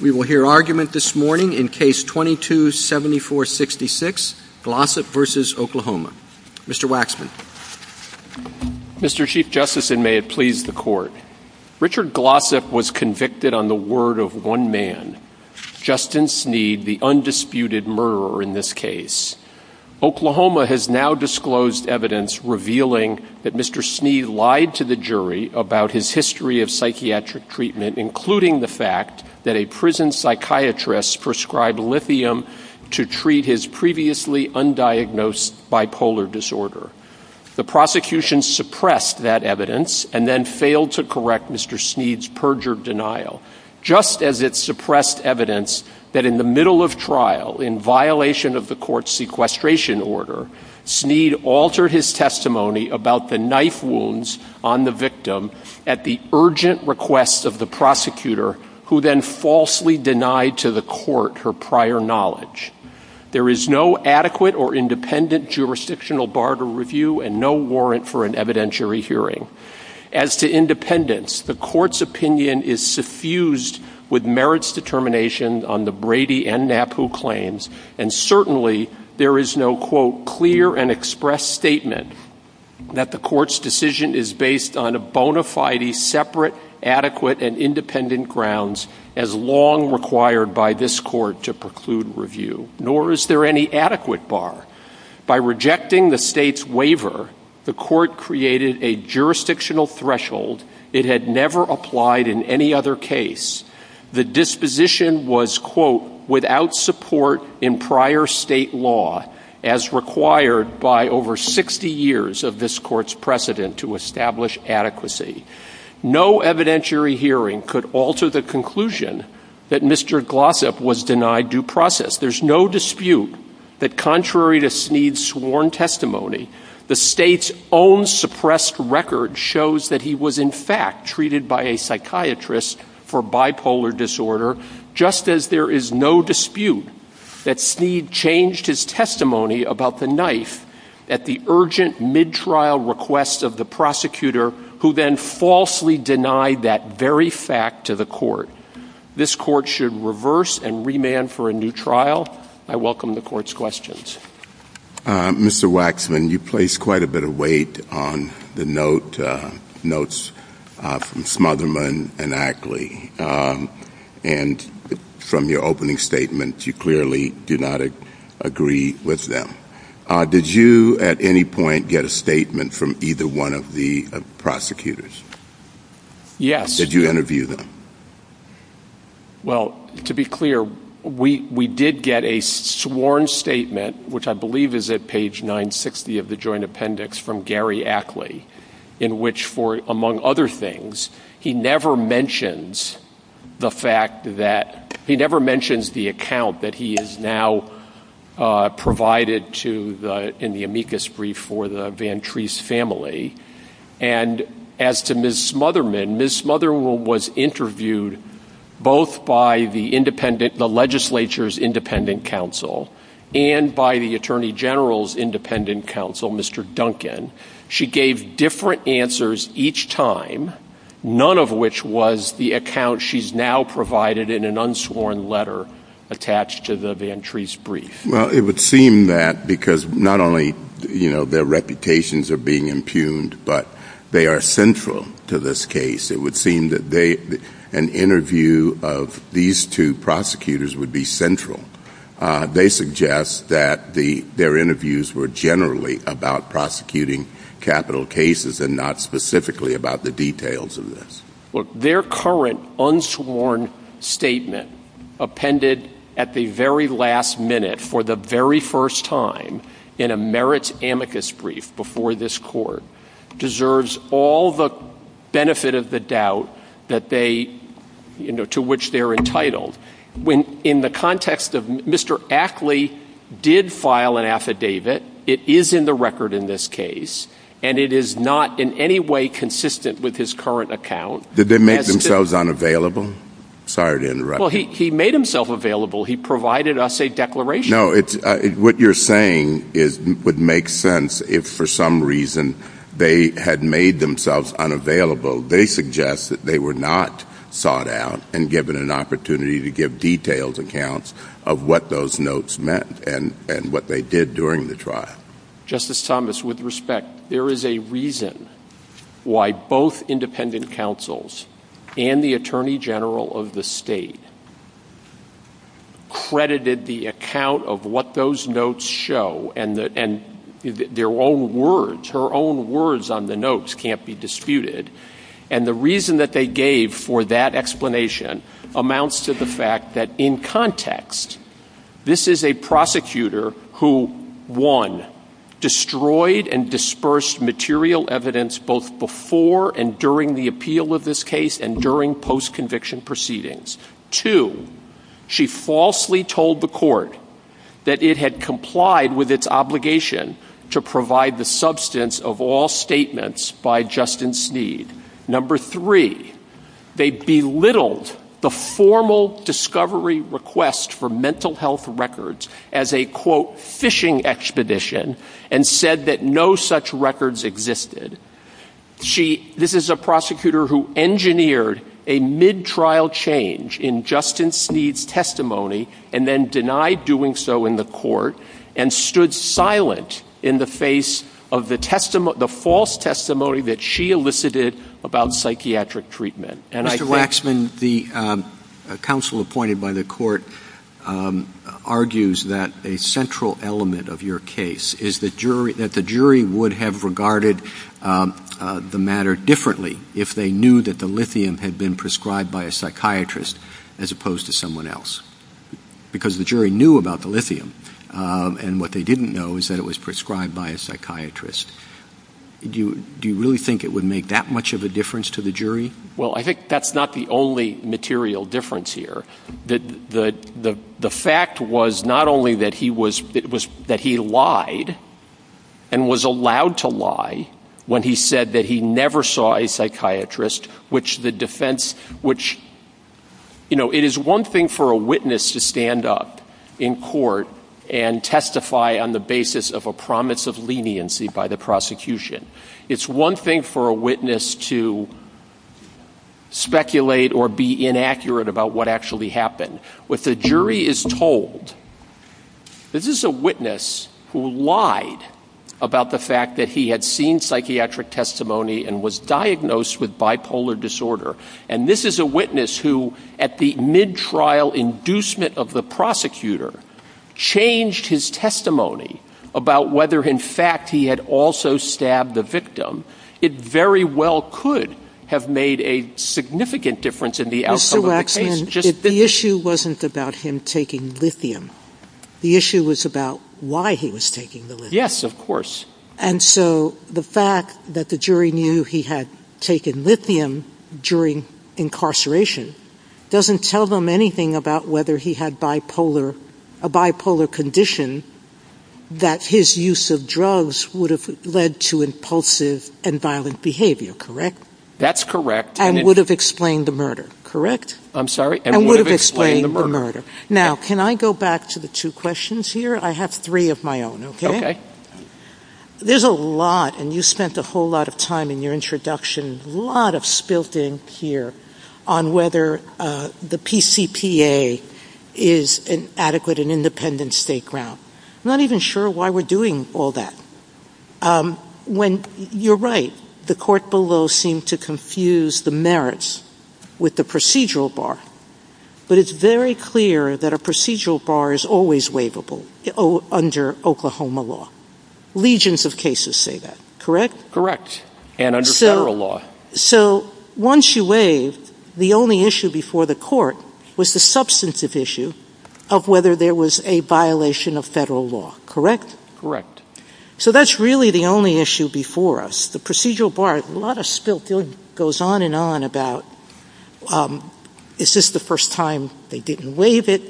We will hear argument this morning in Case 22-7466, Glossop v. Oklahoma. Mr. Waxman. Mr. Chief Justice, and may it please the Court, Richard Glossop was convicted on the word of one man, Justin Sneed, the undisputed murderer in this case. Oklahoma has now disclosed evidence revealing that Mr. Sneed lied to the jury about his history of psychiatric treatment, including the fact that a prison psychiatrist prescribed lithium to treat his previously undiagnosed bipolar disorder. The prosecution suppressed that evidence and then failed to correct Mr. Sneed's perjured denial, just as it suppressed evidence that in the middle of trial, in violation of the court's sequestration order, Sneed altered his testimony about the knife wounds on the victim at the urgent request of the prosecutor, who then falsely denied to the court her prior knowledge. There is no adequate or independent jurisdictional bar to review and no warrant for an evidentiary hearing. As to independence, the court's opinion is suffused with merits determination on the Brady and Knapp who claims, and certainly there is no, quote, clear and expressed statement that the court's decision is based on a bona fide, separate, adequate, and independent grounds as long required by this court to preclude review, nor is there any adequate bar. By rejecting the state's waiver, the court created a jurisdictional threshold it had never applied in any other case. The disposition was, quote, without support in prior state law as required by over 60 years of this court's precedent to establish adequacy. No evidentiary hearing could alter the conclusion that Mr. Glossop was denied due process. There's no dispute that contrary to Sneed's sworn testimony, the state's own suppressed record shows that he was in fact treated by a psychiatrist for bipolar disorder, just as there is no dispute that Sneed changed his testimony about the knife at the urgent mid-trial request of the prosecutor, who then falsely denied that very fact to the court. This court should reverse and remand for a new trial. I welcome the court's questions. Mr. Waxman, you placed quite a bit of weight on the notes from Smotherman and Ackley, and from your opening statement you clearly do not agree with them. Did you at any point get a statement from either one of the prosecutors? Yes. Did you interview them? Well, to be clear, we did get a sworn statement, which I believe is at page 960 of the joint appendix from Gary Ackley, in which, among other things, he never mentions the fact that he never mentions the account that he has now provided in the amicus brief for the Vantrese family. And as to Ms. Smotherman, Ms. Smotherman was interviewed both by the legislature's independent counsel and by the attorney general's independent counsel, Mr. Duncan. She gave different answers each time, none of which was the account she's now provided in an unsworn letter attached to the Vantrese brief. Well, it would seem that because not only, you know, their reputations are being impugned, but they are central to this case, it would seem that an interview of these two prosecutors would be central. They suggest that their interviews were generally about prosecuting capital cases and not specifically about the details of this. Look, their current unsworn statement appended at the very last minute for the very first time in a merits amicus brief before this court deserves all the benefit of the doubt to which they're entitled. In the context of Mr. Ackley did file an affidavit, it is in the record in this case, and it is not in any way consistent with his current account. Did they make themselves unavailable? Sorry to interrupt. Well, he made himself available. He provided us a declaration. No, what you're saying would make sense if for some reason they had made themselves unavailable. They suggest that they were not sought out and given an opportunity to give detailed accounts of what those notes meant and what they did during the trial. Justice Thomas, with respect, there is a reason why both independent counsels and the attorney general of the state credited the account of what those notes show and their own words, her own words on the notes can't be disputed. And the reason that they gave for that explanation amounts to the fact that in context, this is a prosecutor who, one, destroyed and dispersed material evidence both before and during the appeal of this case and during post-conviction proceedings. Two, she falsely told the court that it had complied with its obligation to provide the substance of all statements by Justice Sneed. Number three, they belittled the formal discovery request for mental health records as a, quote, fishing expedition and said that no such records existed. She, this is a prosecutor who engineered a mid-trial change in Justice Sneed's testimony and then denied doing so in the court and stood silent in the face of the false testimony that she elicited about psychiatric treatment. Mr. Waxman, the counsel appointed by the court argues that a central element of your case is that the jury would have regarded the matter differently if they knew that the lithium had been prescribed by a psychiatrist as opposed to someone else. Because the jury knew about the lithium and what they didn't know is that it was prescribed by a psychiatrist. Do you really think it would make that much of a difference to the jury? Well, I think that's not the only material difference here. The fact was not only that he was, that he lied and was allowed to lie when he said that he never saw a psychiatrist, which the defense, which, you know, it is one thing for a witness to stand up in court and testify on the basis of a promise of leniency by the prosecution. It's one thing for a witness to speculate or be inaccurate about what actually happened. What the jury is told, this is a witness who lied about the fact that he had seen psychiatric testimony and was diagnosed with bipolar disorder. And this is a witness who, at the mid-trial inducement of the prosecutor, changed his testimony about whether, in fact, he had also stabbed the victim. It very well could have made a significant difference in the outcome of the case. Mr. Waxman, the issue wasn't about him taking lithium. The issue was about why he was taking the lithium. Yes, of course. And so the fact that the jury knew he had taken lithium during incarceration doesn't tell them anything about whether he had a bipolar condition that his use of drugs would have led to impulsive and violent behavior, correct? That's correct. And would have explained the murder, correct? I'm sorry? And would have explained the murder. Now, can I go back to the two questions here? I have three of my own, okay? Okay. There's a lot, and you spent a whole lot of time in your introduction, a lot of spilt in here on whether the PCPA is an adequate and independent state grant. I'm not even sure why we're doing all that. You're right, the court below seemed to confuse the merits with the procedural bar. But it's very clear that a procedural bar is always waivable under Oklahoma law. Legions of cases say that, correct? And under federal law. So once you waive, the only issue before the court was the substantive issue of whether there was a violation of federal law, correct? So that's really the only issue before us. The procedural bar, a lot of spilt goes on and on about, is this the first time they didn't waive it?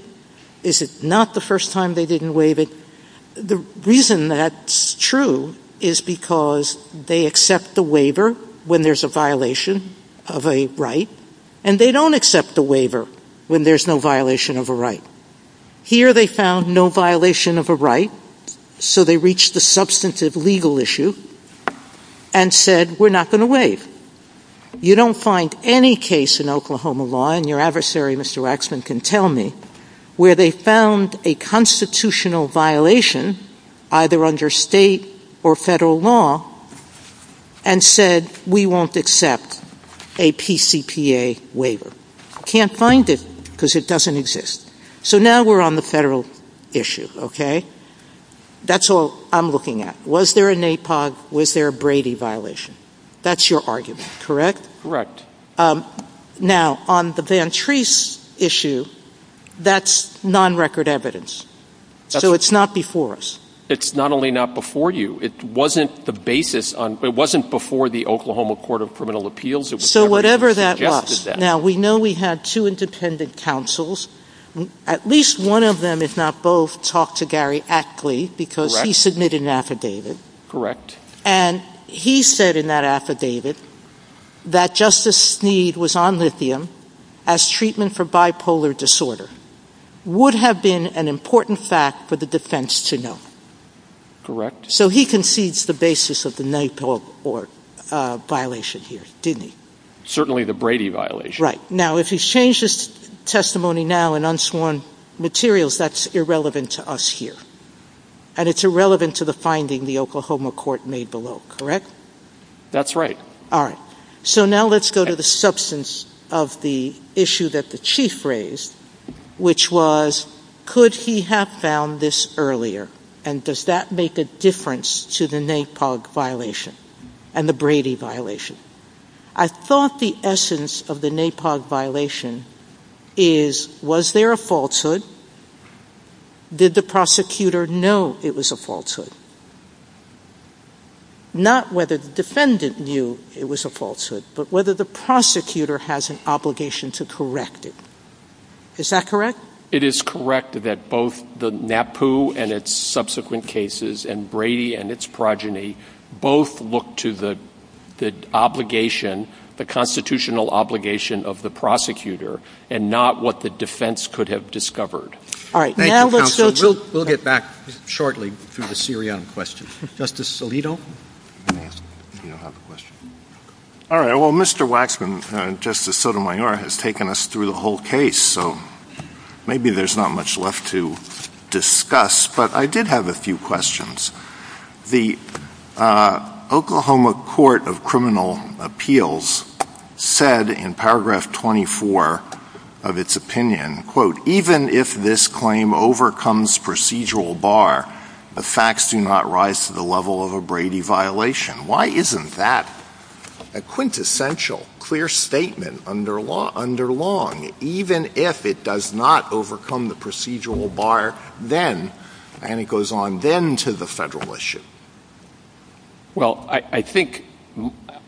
Is it not the first time they didn't waive it? The reason that's true is because they accept the waiver when there's a violation of a right, and they don't accept the waiver when there's no violation of a right. Here they found no violation of a right, so they reached the substantive legal issue, and said we're not going to waive. You don't find any case in Oklahoma law, and your adversary Mr. Waxman can tell me, where they found a constitutional violation, either under state or federal law, and said we won't accept a PCTA waiver. Can't find it because it doesn't exist. So now we're on the federal issue, okay? That's all I'm looking at. Was there an APOG? Was there a Brady violation? That's your argument, correct? Now, on the Van Treece issue, that's non-record evidence. So it's not before us. It's not only not before you, it wasn't before the Oklahoma Court of Criminal Appeals. So whatever that was. Now, we know we had two independent counsels. At least one of them, if not both, talked to Gary Ackley, because he submitted an affidavit. Correct. And he said in that affidavit that Justice Sneed was on lithium as treatment for bipolar disorder would have been an important fact for the defense to know. Correct. So he concedes the basis of the APOG violation here, didn't he? Certainly the Brady violation. Right. Now, if he's changed his testimony now in unsworn materials, that's irrelevant to us here. And it's irrelevant to the finding the Oklahoma Court made below, correct? That's right. All right. So now let's go to the substance of the issue that the Chief raised, which was, could he have found this earlier? And does that make a difference to the APOG violation and the Brady violation? I thought the essence of the APOG violation is, was there a falsehood? Did the prosecutor know it was a falsehood? Not whether the defendant knew it was a falsehood, but whether the prosecutor has an obligation to correct it. Is that correct? It is correct that both the NAPU and its subsequent cases and Brady and its progeny both look to the obligation, the constitutional obligation of the prosecutor and not what the defense could have discovered. All right. We'll get back shortly to the Syrian question. Justice Alito. All right. Well, Mr. Waxman, Justice Sotomayor has taken us through the whole case, so maybe there's not much left to discuss. But I did have a few questions. The Oklahoma Court of Criminal Appeals said in paragraph 24 of its opinion, quote, even if this claim overcomes procedural bar, the facts do not rise to the level of a Brady violation. Why isn't that a quintessential clear statement under long, even if it does not overcome the procedural bar then, and it goes on then to the federal issue? Well, I think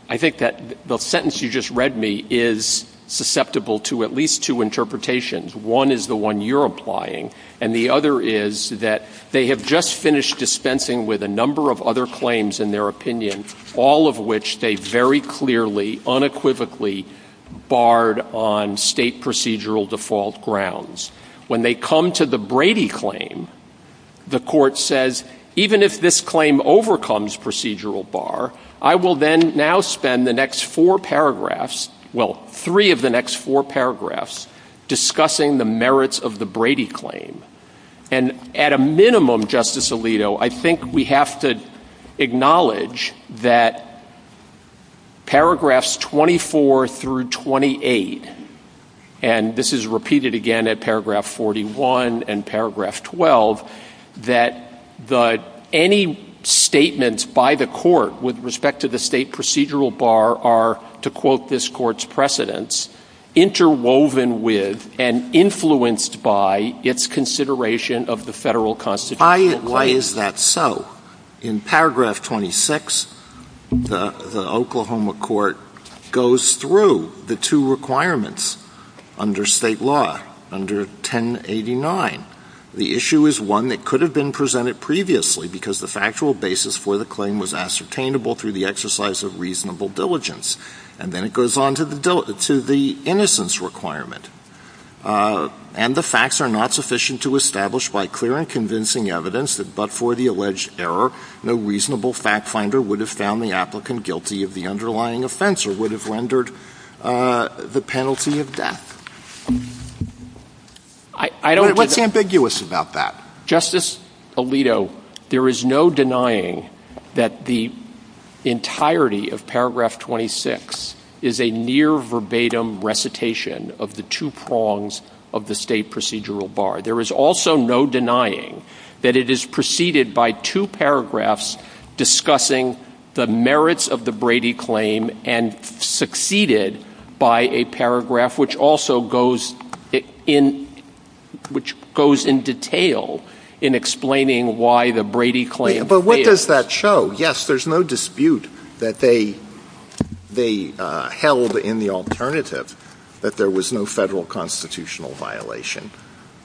that the sentence you just read me is susceptible to at least two interpretations. One is the one you're applying, and the other is that they have just finished dispensing with a number of other claims in their opinion, all of which they very clearly unequivocally barred on state procedural default grounds. When they come to the Brady claim, the court says even if this claim overcomes procedural bar, I will then now spend the next four paragraphs, well, three of the next four paragraphs, discussing the merits of the Brady claim. And at a minimum, Justice Alito, I think we have to acknowledge that paragraphs 24 through 28, and this is repeated again at paragraph 41 and paragraph 12, that any statements by the court with respect to the state procedural bar are, to quote this court's precedents, interwoven with and influenced by its consideration of the federal constitutional Why is that so? In paragraph 26, the Oklahoma court goes through the two requirements under state law, under 1089. The issue is one that could have been presented previously because the factual basis for the claim was ascertainable through the exercise of reasonable diligence. And then it goes on to the innocence requirement. And the facts are not sufficient to establish by clear and convincing evidence that but for the alleged error, no reasonable fact finder would have found the applicant guilty of the underlying offense or would have rendered the penalty of death. What's ambiguous about that? Justice Alito, there is no denying that the entirety of paragraph 26 is a near verbatim recitation of the two prongs of the state procedural bar. There is also no denying that it is preceded by two paragraphs discussing the merits of the Brady claim and succeeded by a paragraph, which also goes in, which goes in detail in explaining why the Brady claim. But what does that show? Yes, there's no dispute that they, they held in the alternative that there was no federal constitutional violation,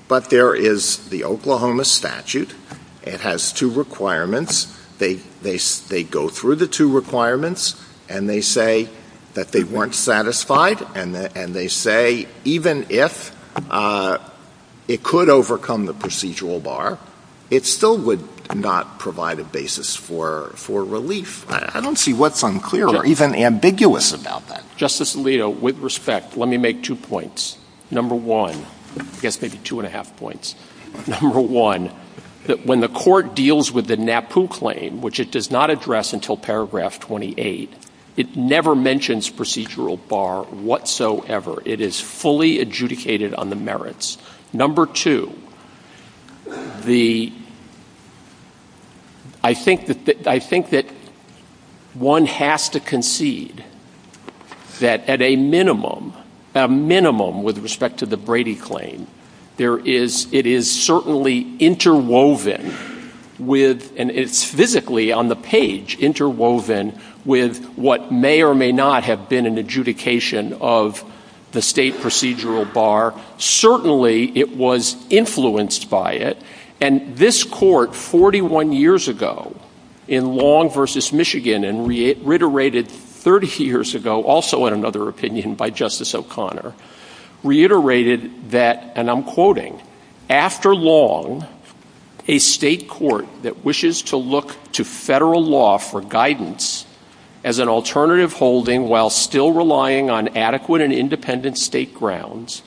but there is the Oklahoma statute. It has two requirements. They, they, they go through the two requirements and they say that they weren't satisfied and they say, even if it could overcome the procedural bar, it still would not provide a basis for, for relief. I don't see what's unclear or even ambiguous about that. Justice Alito, with respect, let me make two points. Number one, I guess maybe two and a half points. Number one, that when the court deals with the NAPU claim, which it does not address until paragraph 28, it never mentions procedural bar whatsoever. It is fully adjudicated on the merits. Number two, the, I think that, I think that one has to concede that at a minimum, a minimum with respect to the Brady claim, there is, it is certainly interwoven with, and it's physically on the page interwoven with what may or may not have been an adjudication of the state procedural bar. Certainly it was influenced by it. And this court 41 years ago in Long versus Michigan and reiterated 30 years ago, also in another opinion by Justice O'Connor reiterated that, and I'm quoting after long a state court that wishes to look to federal law for guidance as an alternative holding while still relying on adequate and independent state grounds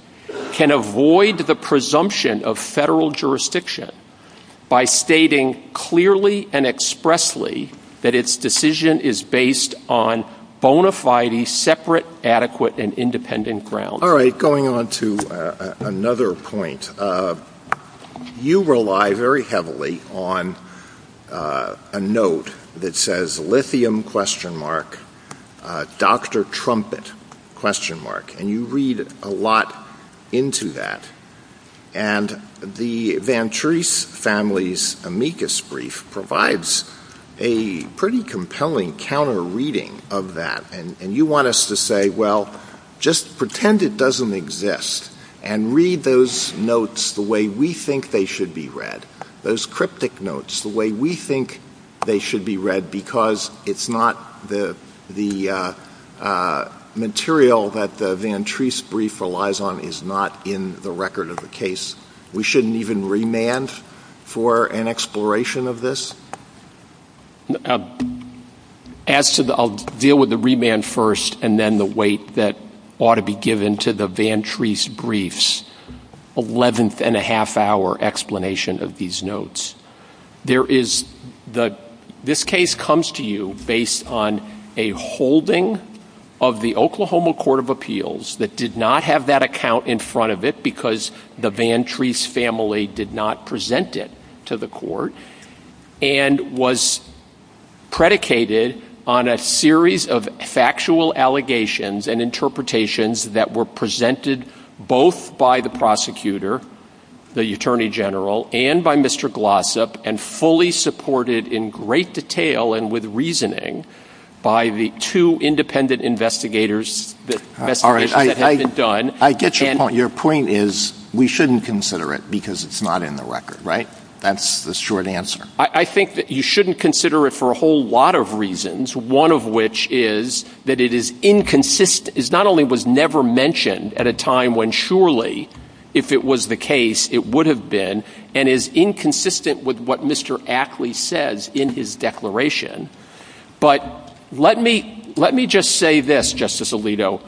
can avoid the presumption of federal jurisdiction by stating clearly and expressly that its decision is based on bona fide separate, adequate, and independent ground. All right. Going on to another point, you rely very heavily on a note that says lithium question mark, Dr. Trumpet question mark. And you read a lot into that. And the van trees families amicus brief provides a pretty compelling counter reading of that. And you want us to say, well, just pretend it doesn't exist and read those notes the way we think they should be read. Those cryptic notes, the way we think they should be read because it's not the, the material that the van trees brief relies on is not in the record of the case. We shouldn't even remand for an exploration of this. As to the, I'll deal with the remand first and then the weight that ought to be given to the van trees briefs 11th and a half hour explanation of these notes. There is the, this case comes to you based on a holding of the Oklahoma court of appeals that did not have that account in front of it because the van trees family did not present it to the court and was predicated on a series of factual allegations and interpretations that were presented both by the prosecutor, the attorney general, and by Mr. Glossop and fully supported in great detail. And with reasoning by the two independent investigators that are done, I get your point. Your point is we shouldn't consider it because it's not in the record, right? That's the short answer. I think that you shouldn't consider it for a whole lot of reasons. One of which is that it is inconsistent is not only was never mentioned at a time when surely if it was the case, it would have been and is inconsistent with what Mr. Ackley says in his declaration. But let me, let me just say this justice Alito,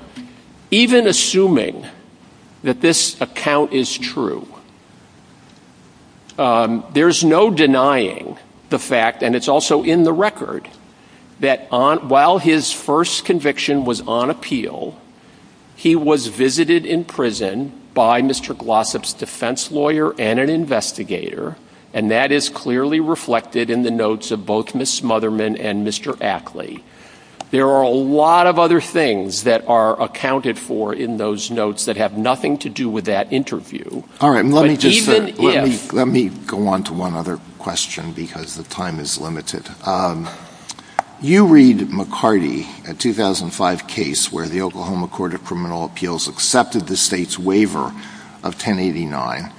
even assuming that this account is true, there's no denying the fact. And it's also in the record that on while his first conviction was on appeal, he was visited in prison by Mr. Glossop's defense lawyer and an investigator. And that is clearly reflected in the notes of both Ms. Smotherman and Mr. There are a lot of other things that are accounted for in those notes that have nothing to do with that interview. All right. And let me just, let me, let me go on to one other question because the time is limited. You read McCarty at 2005 case where the Oklahoma court of criminal appeals accepted the state's waiver of 10 89.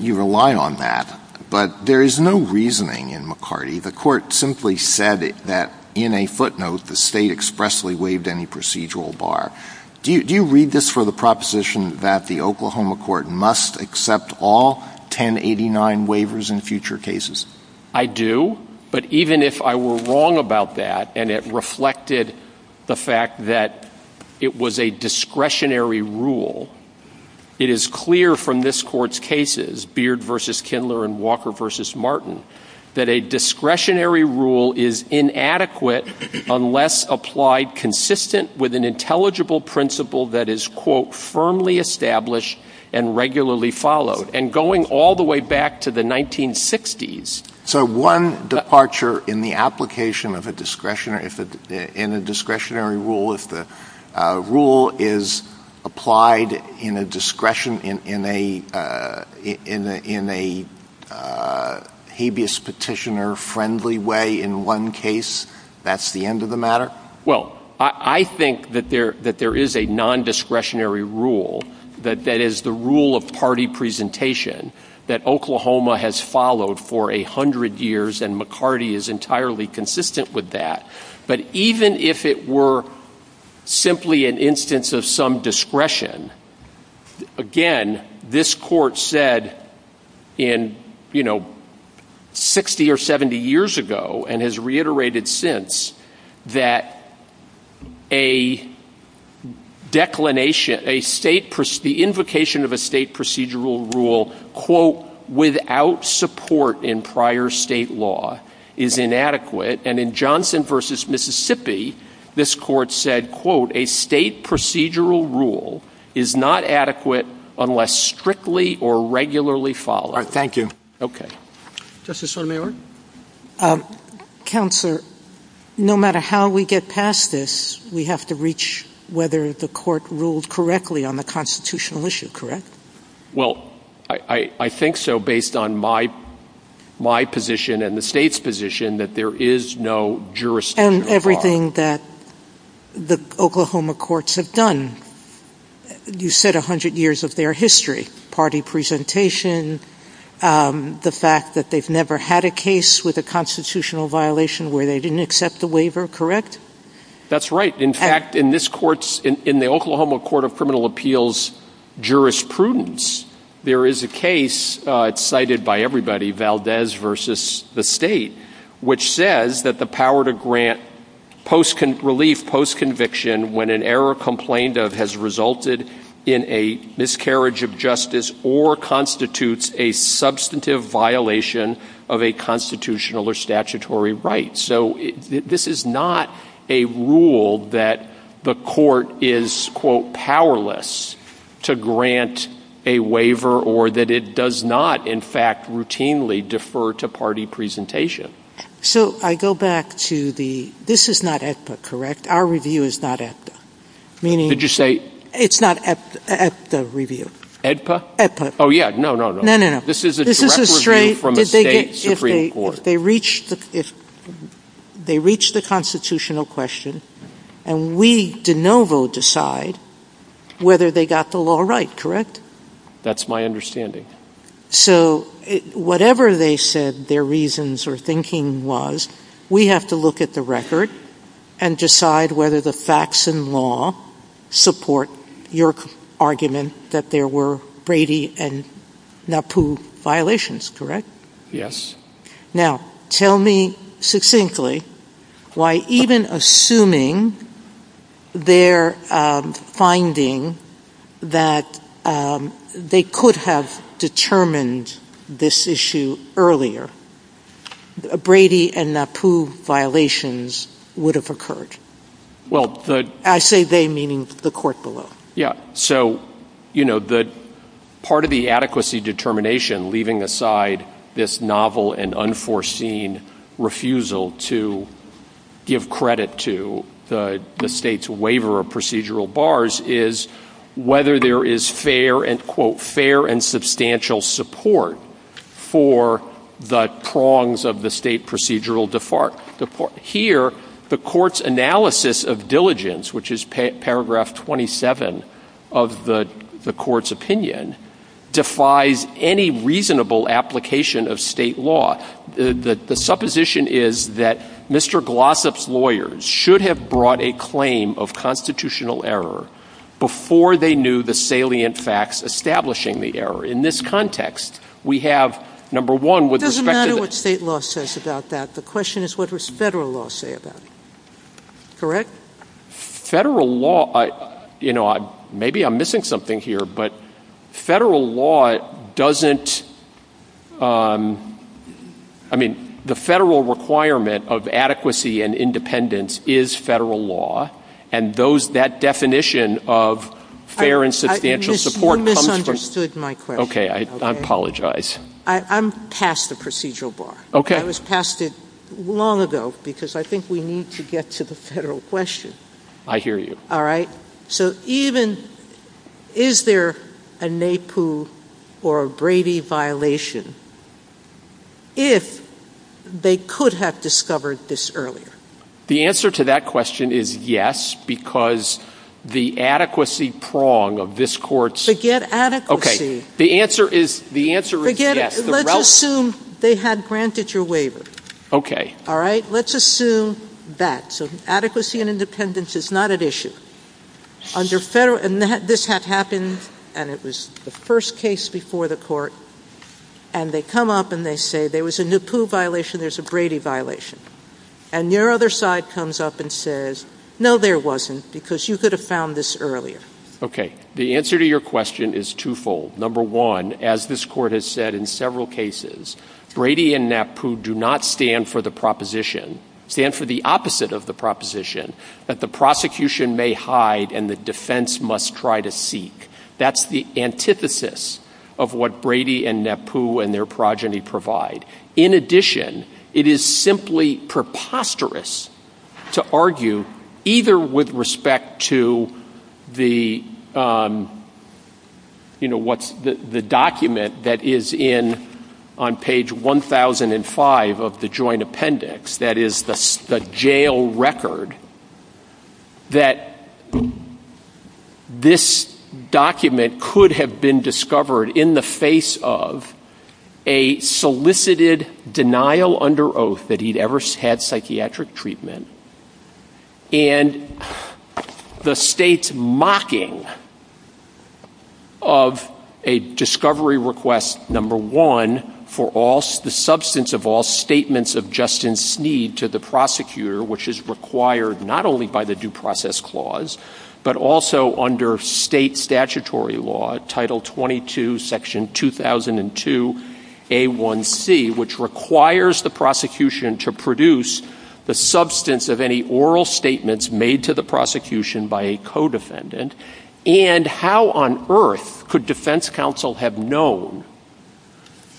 You rely on that, but there is no reasoning in McCarty. The court simply said that in a footnote, the state expressly waived any procedural bar. Do you read this for the proposition that the Oklahoma court must accept all 10 89 waivers in future cases? I do. But even if I were wrong about that, and it reflected the fact that it was a discretionary rule, it is clear from this court's cases, beard versus Kindler and Walker versus Martin, that a discretionary rule is inadequate unless applied consistent with an intelligible principle that is quote firmly established and regularly followed and going all the way back to the 1960s. So one departure in the application of a discretionary, if it in a discretionary rule, if the rule is applied in a discretion in a, in a, in a habeas petitioner friendly way, in one case, that's the end of the matter. Well, I think that there, that there is a nondiscretionary rule, that that is the rule of party presentation that Oklahoma has followed for a hundred years. And McCarty is entirely consistent with that. But even if it were simply an instance of some discretion, again, this court said in, you know, 60 or 70 years ago, and has reiterated since that a declination, a state, the invocation of a state procedural rule, quote, without support in prior state law is inadequate. And in Johnson versus Mississippi, this court said, quote, a state procedural rule is not adequate unless strictly or regularly followed. Thank you. Okay. Justice Sotomayor. Counselor, no matter how we get past this, we have to reach whether the court ruled correctly on the constitutional issue. Correct? Well, I think so based on my, my position and the state's position that there is no jurisdiction. And everything that the Oklahoma courts have done. You said a hundred years of their history, party presentation, the fact that they've never had a case with a constitutional violation where they didn't accept the waiver. Correct. That's right. In fact, in this court, in the Oklahoma court of criminal appeals jurisprudence, there is a case cited by everybody Valdez versus the state, which says that the power to grant post relief post conviction when an error complained of has resulted in a miscarriage of justice or constitutes a substantive violation of a constitutional or statutory rights. So this is not a rule that the court is quote powerless to grant a waiver or that it does not. In fact, routinely defer to party presentation. So I go back to the, this is not at the correct. Our review is not at, did you say it's not at the review? Oh yeah, no, no, no, no, no, no. This is a straight Supreme Court. They reached the, they reached the constitutional question and we did no vote decide whether they got the law right. Correct. That's my understanding. So whatever they said, their reasons or thinking was, we have to look at the record and decide whether the facts and law support your argument that there were Brady and NAPU violations. Correct. Yes. Now tell me succinctly why even assuming their finding that they could have determined this issue earlier, Brady and NAPU violations would have occurred. Well, I say they meaning the court below. Yeah. So, you know, the part of the adequacy determination, leaving aside this novel and unforeseen refusal to give credit to the state's waiver of procedural bars is whether there is fair and quote, fair and substantial support for the prongs of the state procedural default. Here, the court's analysis of diligence, which is paragraph 27 of the court's opinion defies any reasonable application of state law. The supposition is that Mr. Glossop's lawyers should have brought a claim of constitutional error before they knew the salient facts, establishing the error. In this context, we have number one with respect to state law says about that. The question is what was federal law say about correct? Federal law, you know, maybe I'm missing something here, but federal law doesn't. I mean the federal requirement of adequacy and independence is federal law. And those, that definition of fair and substantial support understood my question. Okay. I apologize. I'm past the procedural bar. Okay. I was past it long ago because I think we need to get to the federal question. I hear you. All right. So even is there a Naipu or a Brady violation if they could have discovered this earlier? The answer to that question is yes, because the adequacy prong of this court's... Forget adequacy. Okay. The answer is yes. Let's assume they had granted your waiver. Okay. All right. Let's assume that. So adequacy and independence is not an issue. Under federal... And this had happened and it was the first case before the court. And they come up and they say there was a Naipu violation, there's a Brady violation. And your other side comes up and says, no, there wasn't, because you could have found this earlier. Okay. The answer to your question is twofold. Number one, as this court has said in several cases, Brady and Naipu do not stand for the proposition, stand for the opposite of the proposition, that the prosecution may hide and the defense must try to seek. That's the antithesis of what Brady and Naipu and their progeny provide. In addition, it is simply preposterous to argue either with respect to the document that is in... On page 1,005 of the joint appendix, that is the jail record, that this document could have been discovered in the face of a solicited denial under oath that he'd ever had psychiatric treatment and the state's mocking of a discovery request, number one, for the substance of all statements of justice need to the prosecutor, which is required not only by the due process clause, but also under state statutory law, Title 22, Section 2002A1C, which requires the prosecution to produce the substance of any oral statements made to the prosecution by a co-defendant. And how on earth could defense counsel have known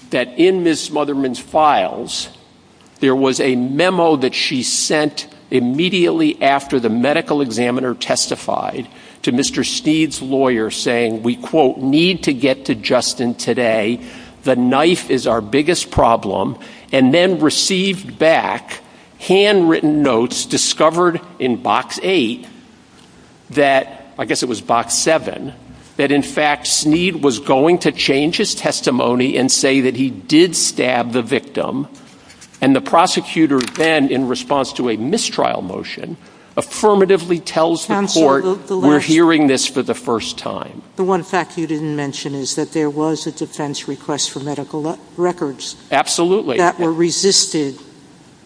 that in Ms. Motherman's files there was a memo that she sent immediately after the medical examiner testified to Mr. Steed's lawyer saying, we, quote, need to get to Justin today. The knife is our biggest problem, and then received back handwritten notes discovered in Box 8 that, I guess it was Box 7, that in fact Steed was going to change his testimony and say that he did stab the victim. And the prosecutor then, in response to a mistrial motion, affirmatively tells the court, We're hearing this for the first time. The one fact you didn't mention is that there was a defense request for medical records. Absolutely. That were resisted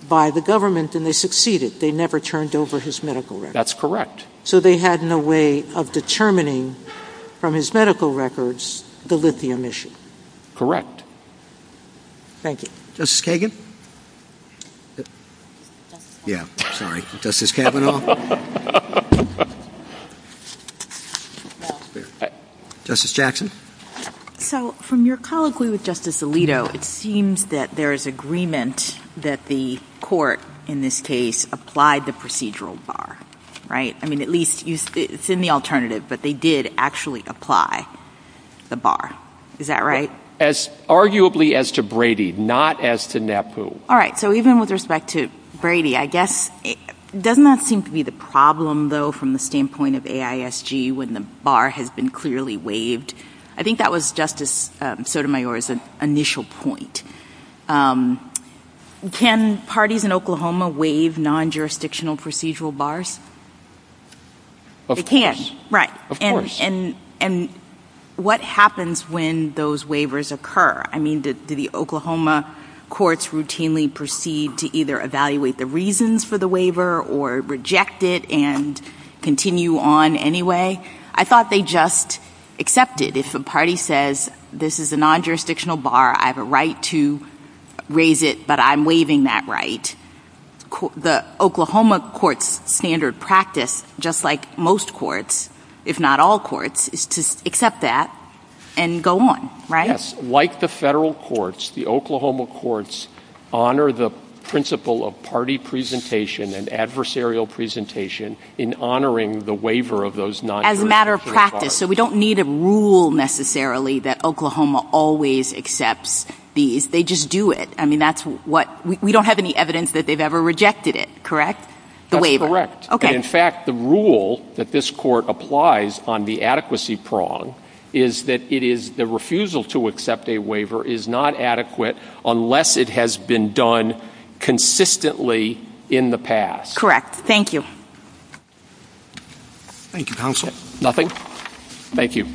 by the government, and they succeeded. They never turned over his medical records. That's correct. So they had no way of determining from his medical records the lithium issue. Correct. Thank you. Justice Kagan? Yeah. Sorry. Justice Kavanaugh? Justice Jackson? So, from your colloquy with Justice Alito, it seems that there is agreement that the court, in this case, applied the procedural bar. Right? I mean, at least it's in the alternative, but they did actually apply the bar. Is that right? Arguably as to Brady, not as to NAPU. All right. So even with respect to Brady, I guess, doesn't that seem to be the problem, though, from the standpoint of AISG, when the bar has been clearly waived? I think that was Justice Sotomayor's initial point. Can parties in Oklahoma waive non-jurisdictional procedural bars? They can. Right. Of course. And what happens when those waivers occur? I mean, do the Oklahoma courts routinely proceed to either evaluate the reasons for the waiver or reject it and continue on anyway? I thought they just accepted. If a party says, this is a non-jurisdictional bar, I have a right to raise it, but I'm waiving that right, the Oklahoma court's standard practice, just like most courts, if not all courts, is to accept that and go on. Right? Yes. Like the federal courts, the Oklahoma courts honor the principle of party presentation and adversarial presentation in honoring the waiver of those non-jurisdictional practices. So we don't need a rule necessarily that Oklahoma always accepts these. They just do it. I mean, that's what, we don't have any evidence that they've ever rejected it, correct? The waiver. That's correct. In fact, the rule that this court applies on the adequacy prong is that it is, the refusal to accept a waiver is not adequate unless it has been done consistently in the past. Correct. Thank you. Thank you, counsel. Nothing. Thank you.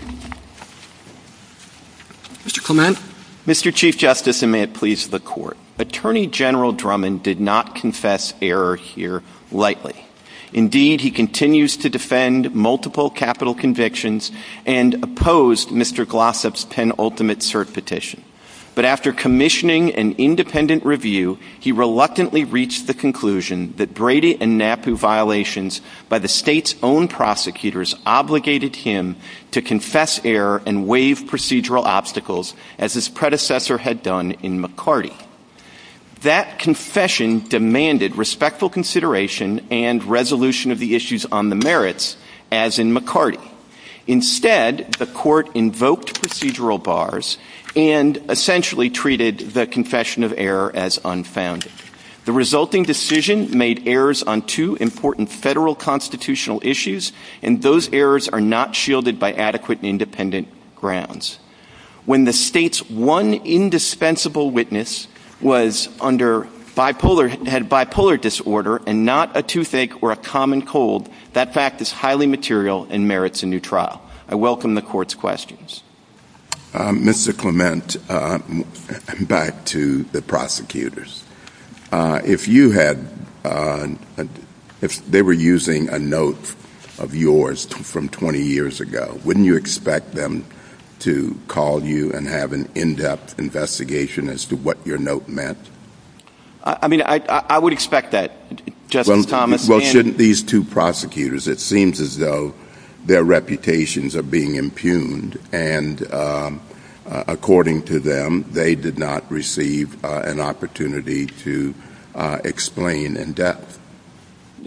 Mr. Clement. Mr. Chief Justice, and may it please the court, Attorney General Drummond did not confess error here lightly. Indeed, he continues to defend multiple capital convictions and opposed Mr. Glossop's penultimate cert petition. But after commissioning an independent review, he reluctantly reached the conclusion that Brady and NAPU violations by the state's own prosecutors obligated him to confess error and waive procedural obstacles as his predecessor had done in McCarty. That confession demanded respectful consideration and resolution of the issues on the merits, as in McCarty. Instead, the court invoked procedural bars and essentially treated the confession of error as unfounded. The resulting decision made errors on two important federal constitutional issues, and those errors are not shielded by adequate and independent grounds. When the state's one indispensable witness was under bipolar, had bipolar disorder, and had bipolar disorder, the state's one Mr. Clement, back to the prosecutors. If you had, if they were using a note of yours from 20 years ago, wouldn't you expect them to call you and have an in-depth investigation as to what your note meant? I mean, I would expect that, Justice Thomas. Well, shouldn't these two prosecutors, it seems as though their reputations are being impugned, and according to them, they did not receive an opportunity to explain in depth.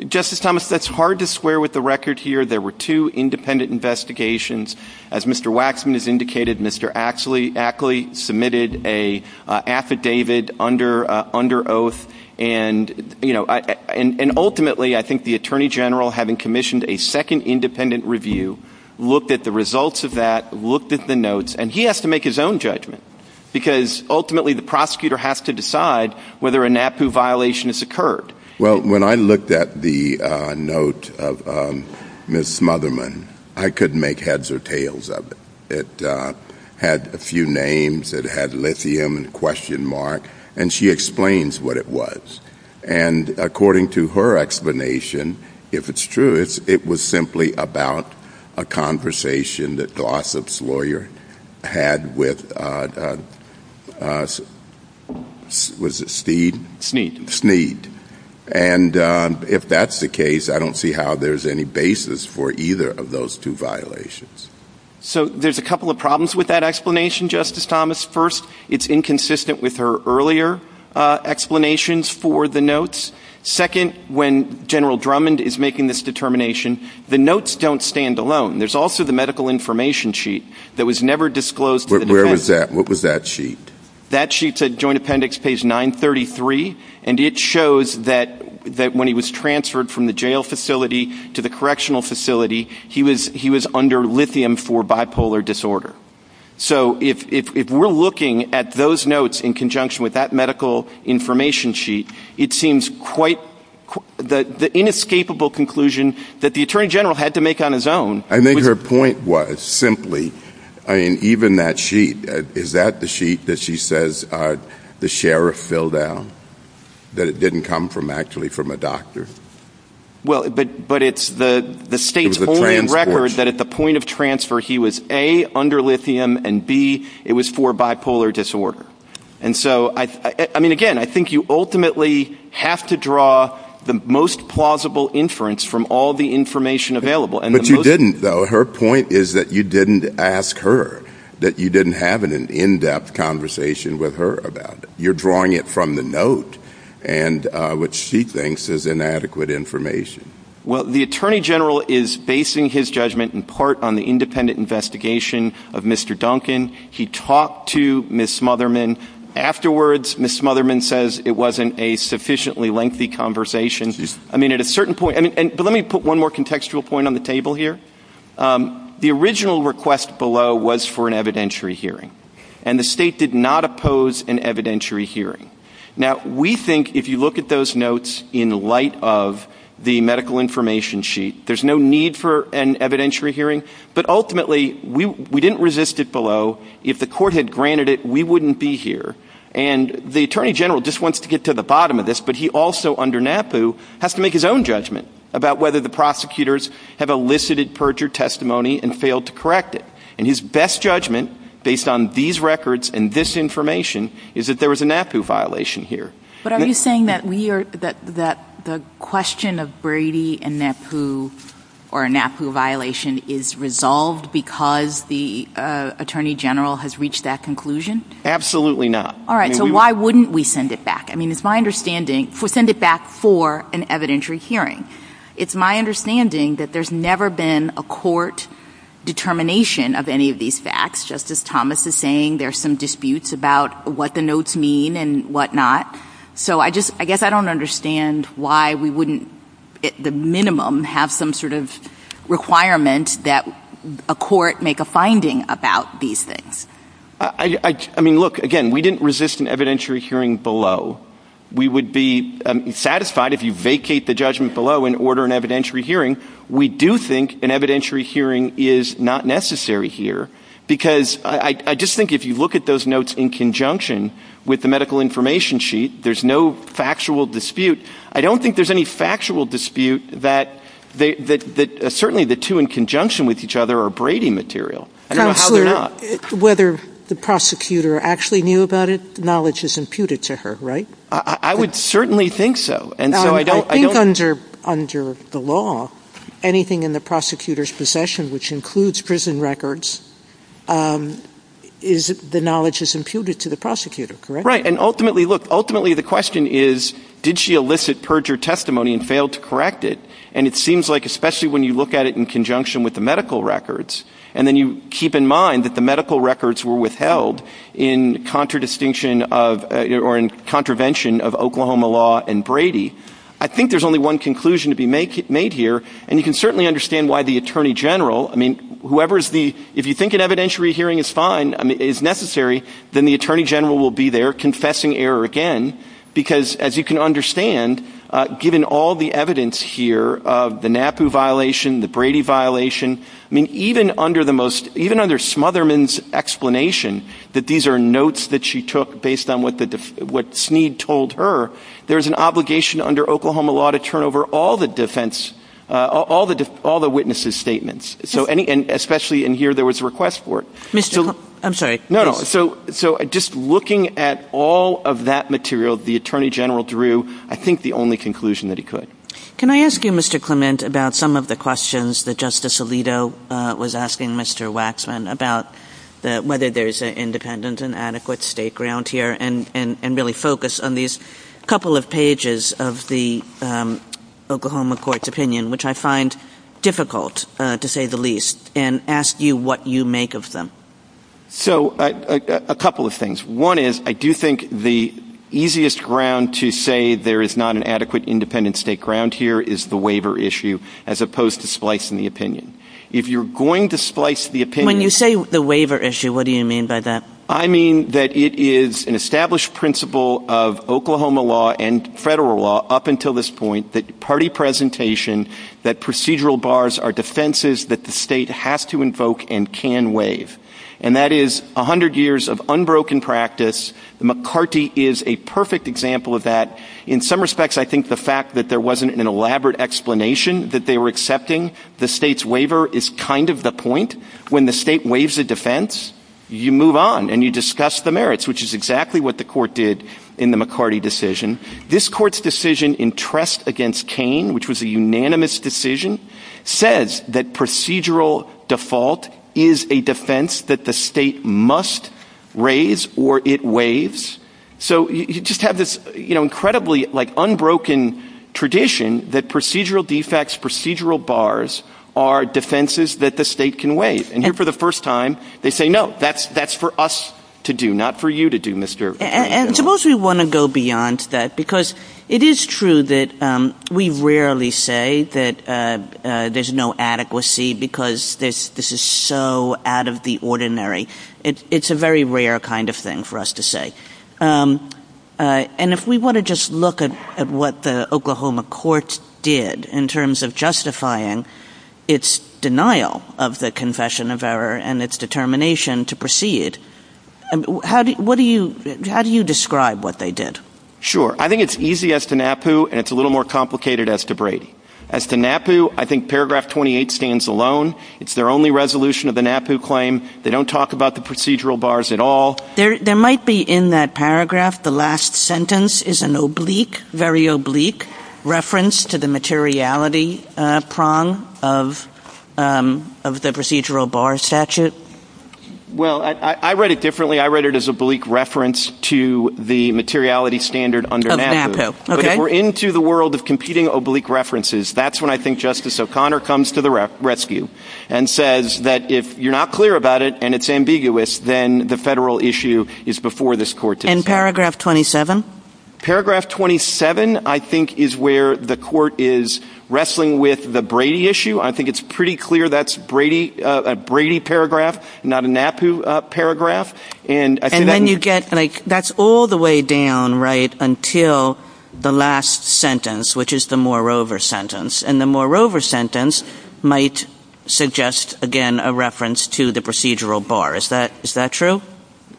Justice Thomas, that's hard to square with the record here. There were two independent investigations. As Mr. Waxman has indicated, Mr. Ackley submitted an affidavit under oath, and ultimately, I think the Attorney General, having commissioned a second independent review, looked at the results of that, looked at the notes, and he has to make his own judgment, because ultimately, the prosecutor has to decide whether a NAPU violation has occurred. Well, when I looked at the note of Ms. Motherman, I couldn't make heads or tails of it. It had a few names. It had lithium and a question mark, and she explains what it was. And according to her explanation, if it's true, it was simply about a conversation that Glossop's lawyer had with Steed. And if that's the case, I don't see how there's any basis for either of those two violations. So there's a couple of problems with that explanation, Justice Thomas. First, it's inconsistent with her earlier explanations for the notes. Second, when General Drummond is making this determination, the notes don't stand alone. There's also the medical information sheet that was never disclosed. What was that sheet? That sheet's at Joint Appendix page 933, and it shows that when he was transferred from the jail facility to the correctional facility, he was under lithium for bipolar disorder. So if we're looking at those notes in conjunction with that medical information sheet, it seems quite the inescapable conclusion that the attorney general had to make on his own. I think her point was simply, I mean, even that sheet, is that the sheet that she says the sheriff filled out, that it didn't come from actually from a doctor? Well, but it's the state's only record that at the point of transfer, he was A, under lithium, and B, it was for bipolar disorder. And so I mean, again, I think you ultimately have to draw the most plausible inference from all the information available. But you didn't, though. Her point is that you didn't ask her, that you didn't have an in-depth conversation with her about it. You're drawing it from the note, and what she thinks is inadequate information. Well, the attorney general is basing his judgment in part on the independent investigation of Mr. Duncan. He talked to Ms. Smotherman. Afterwards, Ms. Smotherman says it wasn't a sufficiently lengthy conversation. I mean, at a certain point, but let me put one more contextual point on the table here. The original request below was for an evidentiary hearing, and the state did not oppose an evidentiary hearing. Now, we think if you look at those notes in light of the medical information sheet, there's no need for an evidentiary hearing. But ultimately, we didn't resist it below. If the court had granted it, we wouldn't be here. And the attorney general just wants to get to the bottom of this, but he also, under NAPU, has to make his own judgment about whether the prosecutors have elicited perjured testimony and failed to correct it. And his best judgment, based on these records and this information, is that there was a NAPU violation here. But are you saying that the question of Brady and NAPU or a NAPU violation is resolved because the attorney general has reached that conclusion? Absolutely not. All right, so why wouldn't we send it back? I mean, it's my understanding. We'll send it back for an evidentiary hearing. It's my understanding that there's never been a court determination of any of these facts. Just as Thomas is saying, there's some disputes about what the notes mean and whatnot. So I guess I don't understand why we wouldn't, at the minimum, have some sort of requirement that a court make a finding about these things. I mean, look, again, we didn't resist an evidentiary hearing below. We would be satisfied if you vacate the judgment below and we would be satisfied if you did not vacate the judgment below. So I don't think there's a need for an evidentiary hearing. We do think an evidentiary hearing is not necessary here. Because I just think if you look at those notes in conjunction with the medical information sheet, there's no factual dispute. I don't think there's any factual dispute that certainly the two in if you look at the law, anything in the prosecutor's possession, which includes prison records, the knowledge is imputed to the prosecutor, correct? Right. And ultimately, look, ultimately the question is, did she elicit perjured testimony and failed to correct it? And it seems like, especially when you look at it in conjunction of or in contravention of Oklahoma law and Brady, I think there's only one conclusion to be made here. And you can certainly understand why the attorney general, I mean, whoever is the if you think an evidentiary hearing is fine, is necessary, then the attorney general will be there confessing error again. Because as you can understand, given all the evidence here of the NAPU violation, the Brady violation, I mean, even under the most even under Smotherman's explanation that these are notes that she took based on what the what Snead told her, there's an obligation under Oklahoma law to turn over all the defense, all the all the witnesses statements. So any and especially in here, there was a request for it. I'm sorry. No, no. So so just looking at all of that material, the attorney general drew, I think the only conclusion that he could. Can I ask you, Mr. Clement, about some of the questions that Justice Alito was asking Mr. Waxman about whether there's an independent and adequate state ground here and really focus on these couple of pages of the Oklahoma court's opinion, which I find difficult to say the least, and ask you what you make of them. So a couple of things. One is I do think the easiest ground to say there is not an adequate independent state ground here is the waiver issue as opposed to splicing the opinion. If you're going to splice the opinion, you say the waiver issue. What do you mean by that? I mean that it is an established principle of Oklahoma law and federal law up until this point that party presentation, that procedural bars are defenses that the state has to invoke and can waive. And that is 100 years of unbroken practice. McCarty is a perfect example of that. In some respects, I think the fact that there wasn't an elaborate explanation that they were accepting the state's waiver is kind of the point. When the state waives a defense, you move on and you discuss the merits, which is exactly what the court did in the McCarty decision. This court's decision in trust against McCain, which was a unanimous decision, says that procedural default is a defense that the state must raise or it waives. So you just have this incredibly unbroken tradition that procedural defects, procedural bars are defenses that the state can waive. And here for the first time, they say, no, that's for us to do, not for you to do, Mr. McCarty. And suppose we want to go beyond that, because it is true that we rarely say that there's no adequacy because this is so out of the ordinary. It's a very rare kind of thing for us to say. And if we want to just look at what the Oklahoma court did in terms of justifying its denial of the decision of error and its determination to proceed, how do you describe what they did? Sure. I think it's easy as to NAPU, and it's a little more complicated as to Brady. As to NAPU, I think paragraph 28 stands alone. It's their only resolution of the NAPU claim. They don't talk about the procedural bars at all. There might be in that paragraph, the last sentence is an oblique, very oblique reference to the materiality prong of the procedural bar statute. Well, I read it differently. I read it as oblique reference to the materiality standard under NAPU. But if we're into the world of competing oblique references, that's when I think Justice O'Connor comes to the rescue and says that if you're not clear about it and it's ambiguous, then the federal issue is before this court And paragraph 27? Paragraph 27, I think, is where the court is wrestling with the Brady issue. I think it's pretty clear that's a Brady paragraph, not a NAPU paragraph. And then you get, like, that's all the way down, right, until the last sentence, which is the moreover sentence. And the moreover sentence might suggest, again, a reference to the procedural bar. Is that true?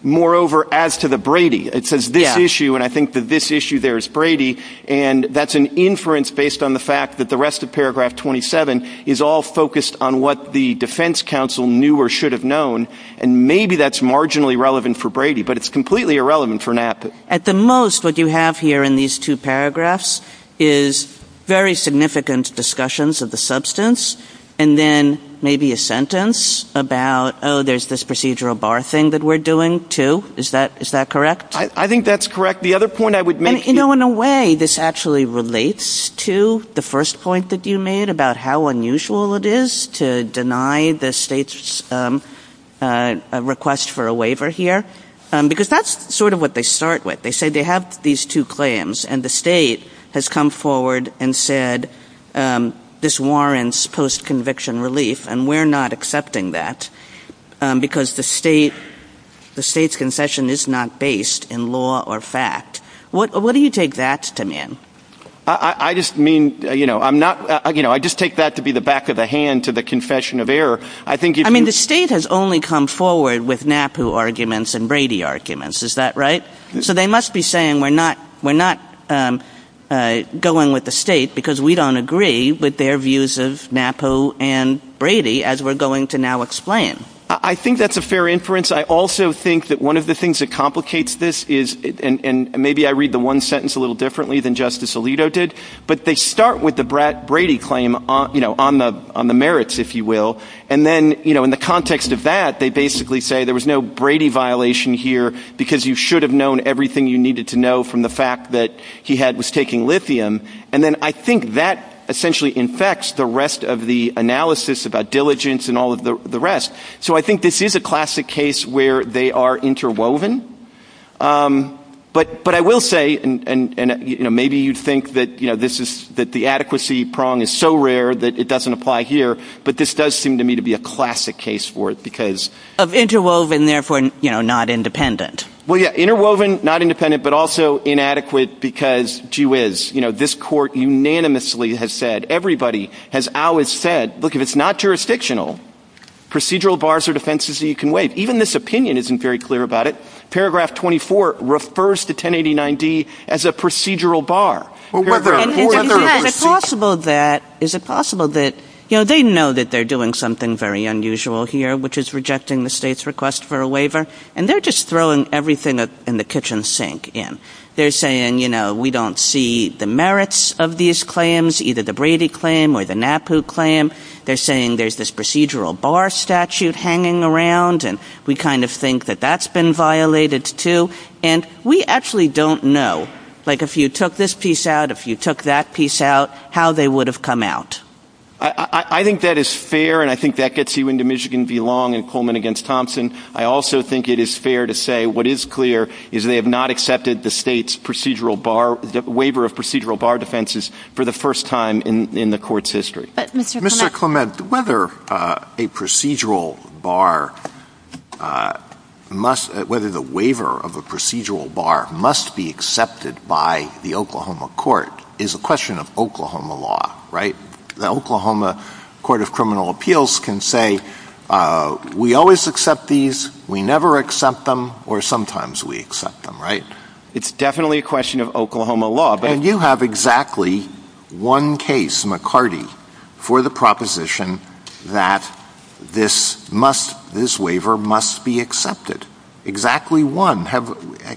Moreover, as to the Brady, it says this issue, and I think that this issue there is Brady, and that's an inference based on the fact that the rest of paragraph 27 is all focused on what the defense counsel knew or should have known. And maybe that's marginally relevant for Brady, but it's completely irrelevant for NAPU. At the most, what you have here in these two paragraphs is very significant discussions of the substance, and then maybe a sentence about, oh, there's this procedural bar thing that we're doing, too. Is that correct? I think that's correct. The other point I would make... And, you know, in a way, this actually relates to the first point that you made about how unusual it is to deny the state's request for a waiver here, because that's sort of what they start with. They say they have these two claims, and the state has come forward and said this warrants post-conviction relief, and we're not accepting that because the state's concession is not based in law or fact. What do you take that to mean? I just mean, you know, I just take that to be the back of the hand to the confession of error. I mean, the state has only come forward with NAPU arguments and Brady arguments. Is that right? So they must be saying we're not going with the state because we don't agree with their views of NAPU and Brady, as we're going to now explain. I think that's a fair inference. I also think that one of the things that complicates this is, and maybe I read the one sentence a little differently than Justice Alito did, but they start with the Brady claim on the merits, if you will. And then in the context of that, they basically say there was no Brady violation here because you should have known everything you needed to know from the fact that he was taking lithium. And then I think that essentially infects the rest of the analysis about diligence and all of the rest. So I think this is a classic case where they are interwoven. But I will say, and maybe you'd think that the adequacy prong is so rare that it doesn't apply here, but this does seem to me to be a classic case for it because... Of interwoven, therefore not independent. Well, yeah, interwoven, not independent, but also inadequate because, gee whiz, this court unanimously has said, everybody has always said, look, if it's not jurisdictional, procedural bars are defenses that you can waive. Even this opinion isn't very clear about it. Paragraph 24 refers to 1089-D as a procedural bar. Is it possible that, you know, they know that they're doing something very unusual here, which is rejecting the state's request for a waiver, and they're just throwing everything in the kitchen sink in. They're saying, you know, we don't see the merits of these claims, either the Brady claim or the NAPU claim. They're saying there's this procedural bar statute hanging around, and we kind of think that that's been violated too. And we actually don't know. Like, if you took this piece out, if you took that piece out, how they would have come out. I think that is fair, and I think that gets you into Michigan v. Long and Coleman v. Thompson. I also think it is fair to say that what is clear is they have not accepted the state's procedural bar, the waiver of procedural bar defenses for the first time in the Court's history. Mr. Clement, whether a procedural bar must, whether the waiver of a procedural bar must be accepted by the Oklahoma Court is a question of Oklahoma law, right? The Oklahoma Court of Criminal Procedure, sometimes we accept them, right? It's definitely a question of Oklahoma law. And you have exactly one case, McCarty, for the proposition that this must, this waiver must be accepted. Exactly one.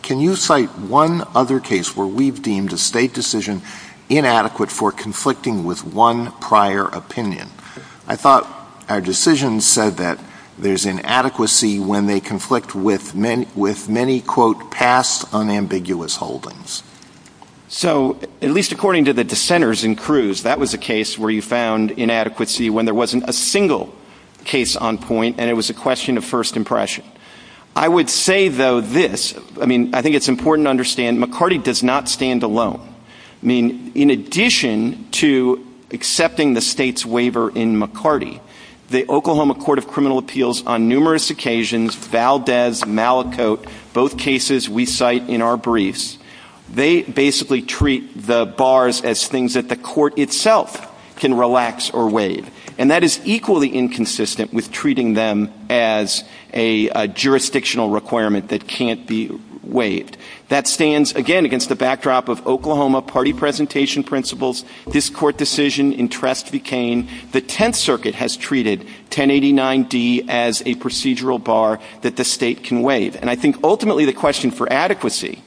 Can you cite one other case where we've deemed a state decision inadequate for conflicting with one prior opinion? I thought our decision said that there's inadequacy when they conflict with many, quote, past unambiguous holdings. So, at least according to the dissenters in Cruz, that was a case where you found inadequacy when there wasn't a single case on point, and it was a question of first impression. I would say, though, this, I mean, I think it's important to understand, McCarty does not stand alone. I mean, in addition to accepting the state's waiver in McCarty, the Oklahoma Court of Criminal Appeals on numerous occasions, Valdez, Malicote, both cases we cite in our briefs, they basically treat the bars as things that the court itself can relax or waive. And that is equally inconsistent with treating them as a jurisdictional requirement that can't be waived. That stands, again, against the backdrop of Oklahoma party presentation principles. This court decision in Trest v. Cain, the Tenth Circuit has treated 1089D as a procedural bar that the state can waive. And I think ultimately the question for adequacy,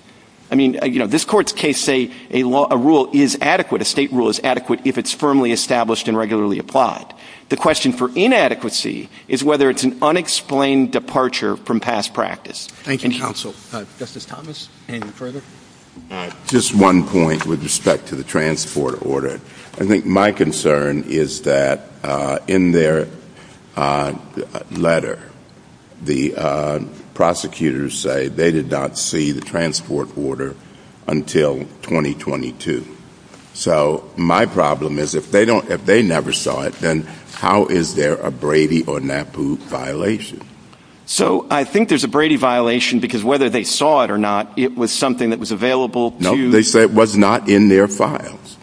I mean, you know, this court's case, say, a rule is adequate, a state rule is adequate if it's firmly established and regularly applied. The question for inadequacy is whether it's an unexplained departure from past practice. Thank you, counsel. Justice Thomas, anything further? Just one point with respect to the transport order. I think my concern is that in their letter, the prosecutors say they did not see the transport order until 2022. So my problem is if they never saw it, then how is there a Brady or NAPU violation? So I think there's a Brady violation because whether they saw it or not, it was something that was available to No, they said it was not in their files.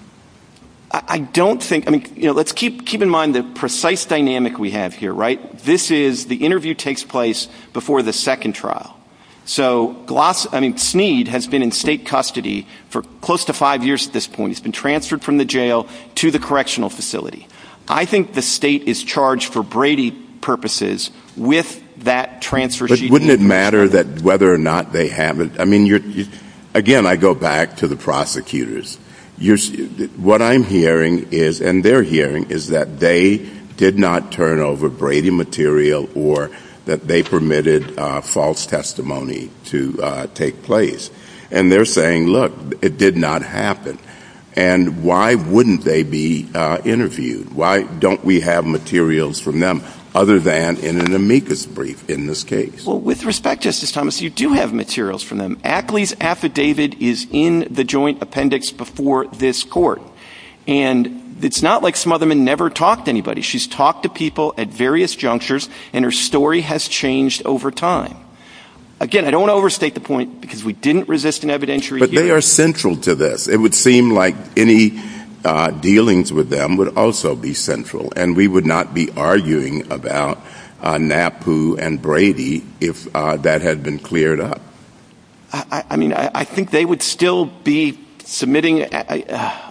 I don't think, I mean, let's keep in mind the precise dynamic we have here, right? This is, the interview takes place before the second trial. So Gloss, I mean, Sneed has been in state custody for close to five years at this point. He's been transferred from the jail to the correctional facility. I think the state is charged for Brady purposes with that transfer. But wouldn't it matter that whether or not they haven't, I mean, again, I go back to the prosecutors. What I'm hearing is, and they're hearing, is that they did not turn over Brady material or that they permitted false testimony to take place. And they're saying, look, it did not happen. And why wouldn't they be interviewed? Why don't we have materials from them other than in an amicus brief in this case? Well, with respect, Justice Thomas, you do have materials from them. Ackley's affidavit is in the joint appendix before this court. And it's not like Smotherman never talked to anybody. She's talked to people at various junctures, and her story has changed over time. Again, I don't want to overstate the point because we didn't resist an evidentiary hearing. But they are central to this. It would seem like any dealings with them would also be central. And we would not be arguing about NAPU and Brady if that had been cleared up. I mean, I think they would still be submitting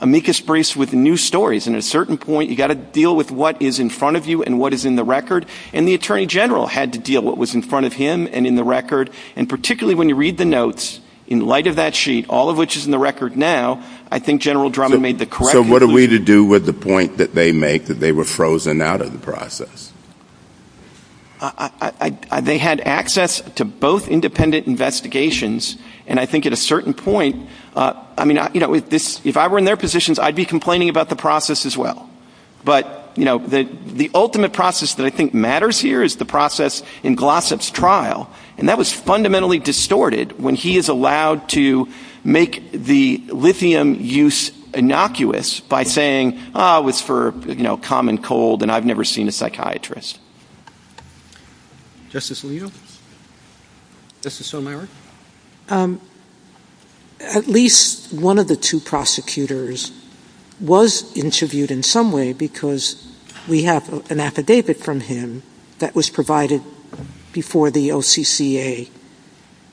amicus briefs with new stories. And at a certain point, you've got to deal with what is in front of you and what is in the record. And the Attorney General had to deal with what was in front of him and in the record. And particularly when you read the notes, in light of that sheet, all of which is in the record now, I think General Drummond made the correct decision. What did he do with the point that they make that they were frozen out of the process? They had access to both independent investigations. And I think at a certain point, I mean, if I were in their positions, I'd be complaining about the process as well. But the ultimate process that I think matters here is the process in Glossop's trial. And that was fundamentally distorted when he said, you know, I've never seen a psychiatrist who is allowed to make the lithium use innocuous by saying, oh, it's for common cold, and I've never seen a psychiatrist. Justice Leo? Justice O'Mara? At least one of the two prosecutors was interviewed in some way because we have an affidavit from him that was provided before the OCCA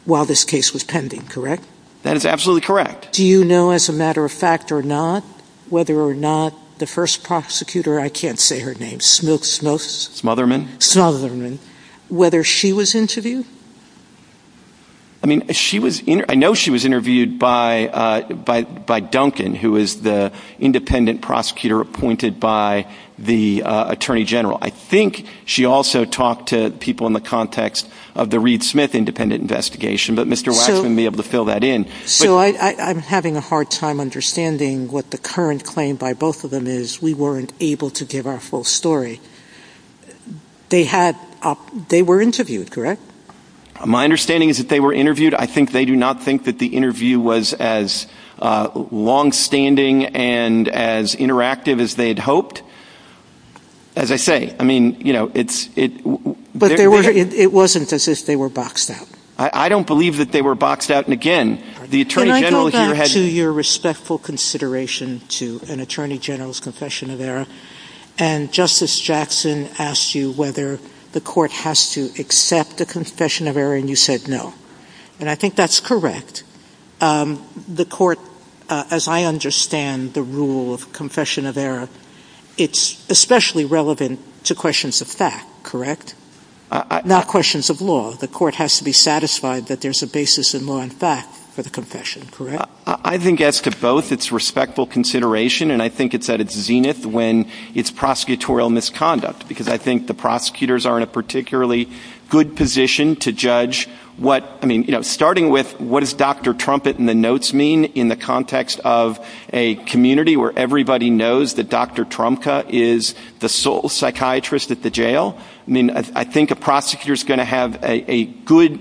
while this case was pending, correct? That is absolutely correct. Do you know, as a matter of fact or not, whether or not the first prosecutor, I can't say her name, Smotherman, whether she was interviewed? I mean, I know she was interviewed by Duncan, who is the independent prosecutor appointed by the attorney general. I think she also talked to people in the context of the Reed Smith independent investigation. But Mr. Waxman may be able to fill that in. So I'm having a hard time understanding what the current claim by both of them is. We weren't able to give our full story. They were interviewed, correct? My understanding is that they were interviewed. I think they do not think that the interview was as longstanding and as interactive as they'd hoped. As I say, I mean, you know, it's... But it wasn't as if they were boxed out. I don't believe that they were boxed out. And again, the attorney general... Can I go back to your respectful consideration to an attorney general's confession of error? And Justice Jackson asked you whether the court has to accept the confession of error, and you said no. And I think that's correct. The court, as I understand the rule of confession of error, it's especially relevant to questions of fact, correct? Not questions of law. The court has to be satisfied that there's a basis in law and fact for the confession, correct? I think as to both, it's respectful consideration, and I think it's at its zenith when it's prosecutorial misconduct. Because I think the prosecutors are in a particularly good position to judge what... I mean, you know, starting with what does Dr. Trumpet in the notes mean in the context of a community where everybody knows that Dr. Trumka is the sole psychiatrist at the jail? I mean, I think a prosecutor's going to have a good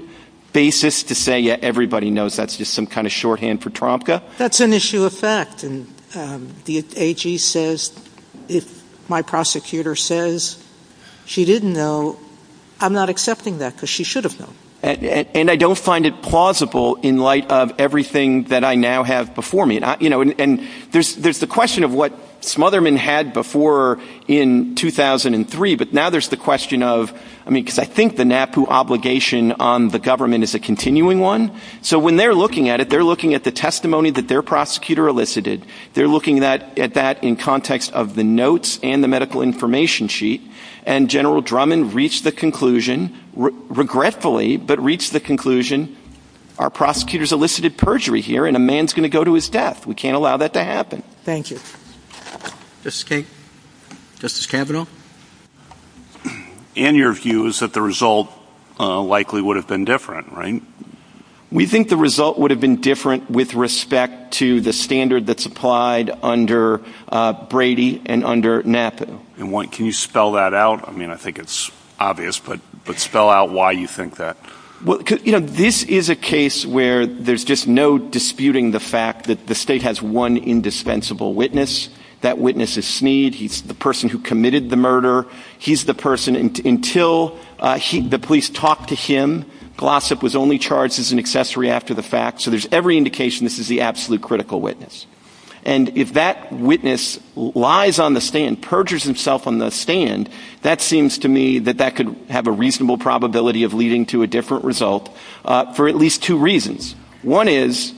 basis to say, yeah, everybody knows that's just some kind of shorthand for Trumka. That's an issue of fact. And the AG says, my prosecutor says, she didn't know. I'm not accepting that because she should have known. And I don't find it plausible in light of everything that I now have before me. And there's the question of what Smotherman had before in 2003. But now there's the question of... I mean, because I think the NAPU obligation on the government is a continuing one. So when they're looking at it, they're looking at the testimony that their prosecutor elicited. They're looking at that in context of the notes and the medical information sheet. And General Drummond reached the conclusion, regretfully, but reached the conclusion, our prosecutor's elicited perjury here, and a man's going to go to his death. We can't allow that to happen. Thank you. Justice Kavanaugh? And your view is that the result likely would have been different, right? We think the result would have been different with respect to the standard that's applied under Brady and under NAPU. Can you spell that out? I mean, I think it's obvious, but spell out why you think that. This is a case where there's just no disputing the fact that the state has one indispensable witness. That witness is Sneed. He's the person who committed the murder. He's the person until the police talked to him. Glossop was only charged as an accessory after the fact. So there's every indication this is the absolute critical witness. And if that witness lies on the stand and perjures himself on the stand, that seems to me that that could have a reasonable probability of leading to a different result for at least two reasons. One is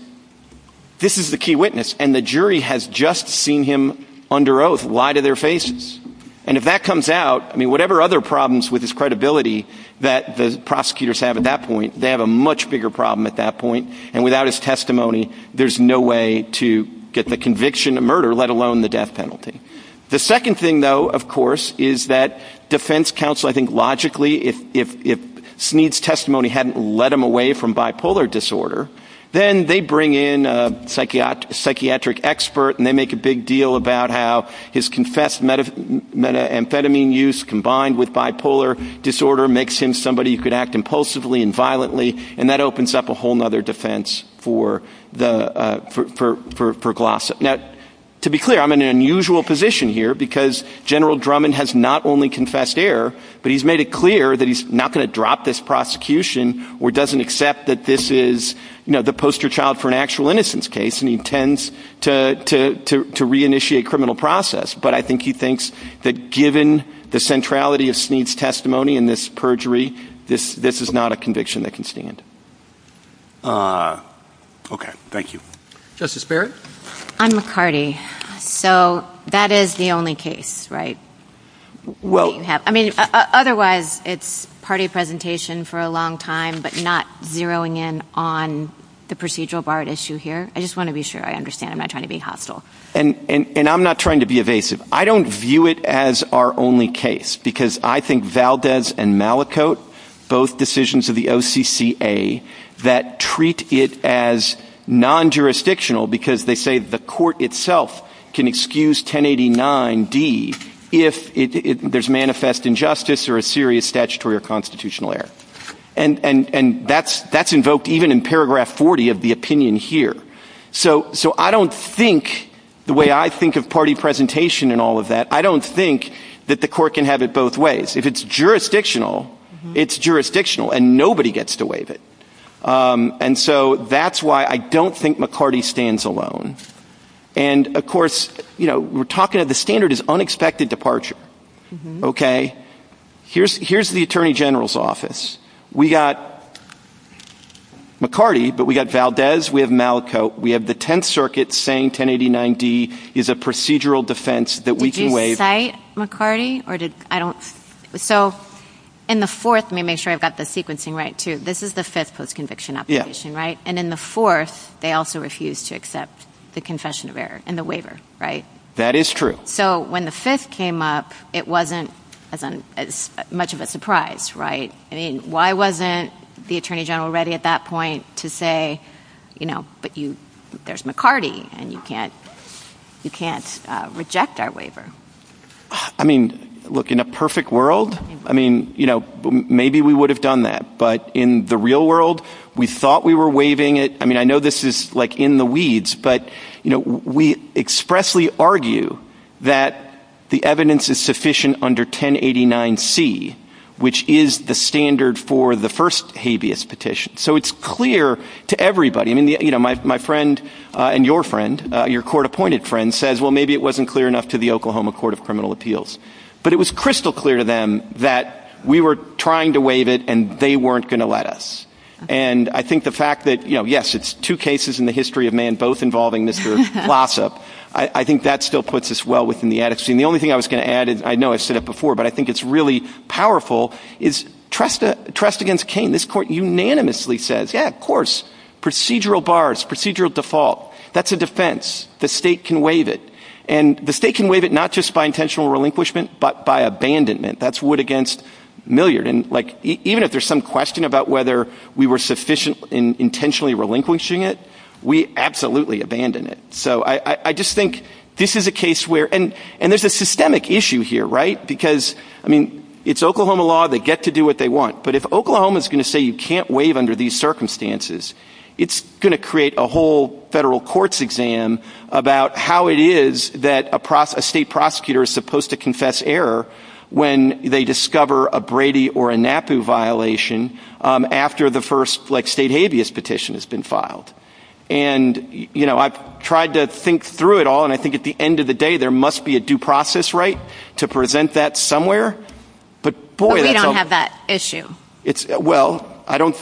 this is the key witness, and the jury has just seen him under oath lie to their faces. And if that comes out, I mean, whatever other problems with his credibility that the prosecutors have at that point, they have a much bigger problem at that point. And without his testimony, there's no way to get the conviction of murder, let alone the death penalty. The second thing, though, of course, is that defense counsel, I think logically, if Sneed's testimony hadn't led him away from bipolar disorder, then they bring in a psychiatric expert and they make a big deal about how his confessed methamphetamine use combined with bipolar disorder makes him look like somebody who could act impulsively and violently. And that opens up a whole other defense for Glossa. Now, to be clear, I'm in an unusual position here, because General Drummond has not only confessed error, but he's made it clear that he's not going to drop this prosecution or doesn't accept that this is the poster child for an actual innocence case. And he intends to re-initiate criminal process. But I think he thinks that given the centrality of Sneed's testimony in this perjury, this is not a conviction that can stand. Okay. Thank you. Justice Barrett? I'm McCarty. So that is the only case, right? I mean, otherwise, it's party presentation for a long time, but not zeroing in on the procedural Barrett issue here. I just want to be sure I understand. I'm not trying to be hostile. And I'm not trying to be evasive. I don't view it as our only case, because I think Valdez and Malicote, both decisions of the OCCA, that treat it as non-jurisdictional, because they say the court itself can excuse 1089-D if there's manifest injustice or a serious statutory or constitutional error. And that's invoked even in paragraph 40 of the opinion here. So I don't think, the way I think of party presentation and all of that, I don't think that the court can have it both ways. If it's jurisdictional, it's jurisdictional, and nobody gets to waive it. And so that's why I don't think McCarty stands alone. And of course, we're talking about the standard is unexpected departure. Here's the attorney general's office. We got McCarty, but we got Valdez, we have Malicote, we have the Tenth Circuit saying 1089-D is a procedural defense that we can waive. In the fourth, let me make sure I've got the sequencing right, too. This is the Fed's post-conviction application, right? And in the fourth, they also refused to accept the confession of error and the waiver, right? That is true. So when the fifth came up, it wasn't as much of a surprise, right? I mean, why wasn't the attorney general ready at that point to say, you know, there's McCarty and you can't reject our waiver? I mean, look, in a perfect world, I mean, you know, maybe we would have done that. But in the real world, we thought we were waiving it. I mean, I know this is like in the weeds, but, you know, we expressly argue that the evidence is sufficient under 1089-C, which is the standard for the first habeas petition. So it's clear to everybody. I mean, you know, my friend and your friend, your court-appointed friend, says, well, maybe it wasn't clear enough to the Oklahoma Court of Criminal Appeals. But it was crystal clear to them that we were trying to waive it, and they weren't going to let us. And I think the fact that, you know, yes, it's two cases in the history of man, both involving this sort of lawsuit, I think that still puts us well within the addiction. The only thing I was going to add, and I know I said it before, but I think it's really powerful, is trust against Cain. This court unanimously says, yeah, of course. Procedural bars, procedural default, that's a defense. The state can waive it. And the state can waive it not just by intentional relinquishment, but by abandonment. That's wood against milliard. And, like, even if there's some question about whether we were sufficiently intentionally relinquishing it, we absolutely abandon it. So I just think this is a case where, and there's a systemic issue here, right? Because, I mean, it's Oklahoma law. They get to do what they want. But if Oklahoma is going to say you can't waive under these circumstances, it's going to create a whole federal courts exam about how it is that a state prosecutor is supposed to confess error when they discover a Brady or a NAPU violation after the first, like, state habeas petition has been filed. And, you know, I've tried to think through it all, and I think at the end of the day, it's a very simple question. But, boy, I don't... You don't have that issue. Well,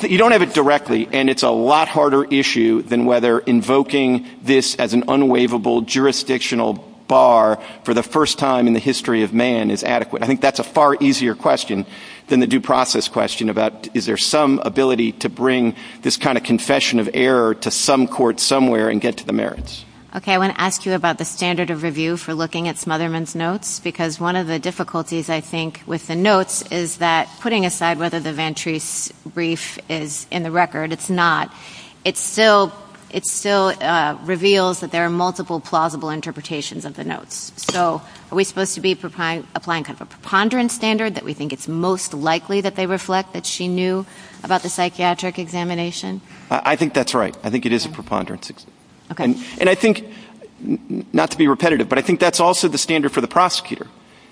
you don't have it directly. And it's a lot harder issue than whether invoking this as an unwaivable jurisdictional bar for the first time in the history of man is adequate. I think that's a far easier question than the due process question about is there some ability to bring this kind of confession of error to some court somewhere and get to the merits. Okay. I want to ask you about the standard of review for looking at Smotherman's notes, because one of the difficulties, I think, with the notes is that putting aside whether the Ventre's brief is in the record, it's not. It still reveals that there are multiple plausible interpretations of the notes. So are we supposed to be applying a preponderance standard that we think it's most likely that they reflect that she knew about the psychiatric examination? I think that's right. I think it is a preponderance. Okay. And I think, not to be repetitive, but I think that's also the standard for the prosecutor,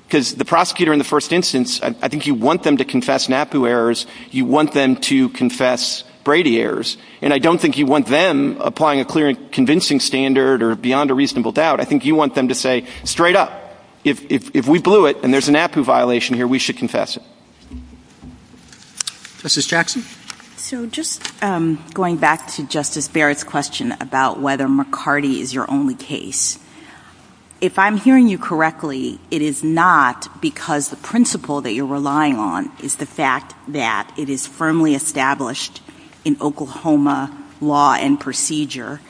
because the prosecutor in the first instance, I think you want them to confess NAPU errors. You want them to confess Brady errors. And I don't think you want them applying a clear and convincing standard or beyond a reasonable doubt. I think you want them to say straight up, if we blew it and there's a NAPU violation here, we should confess it. Justice Jackson? So just going back to Justice Barrett's question about whether McCarty is your only case, if I'm hearing you correctly, it is not because the principle that you're relying on is the fact that it is firmly established in Oklahoma law and procedure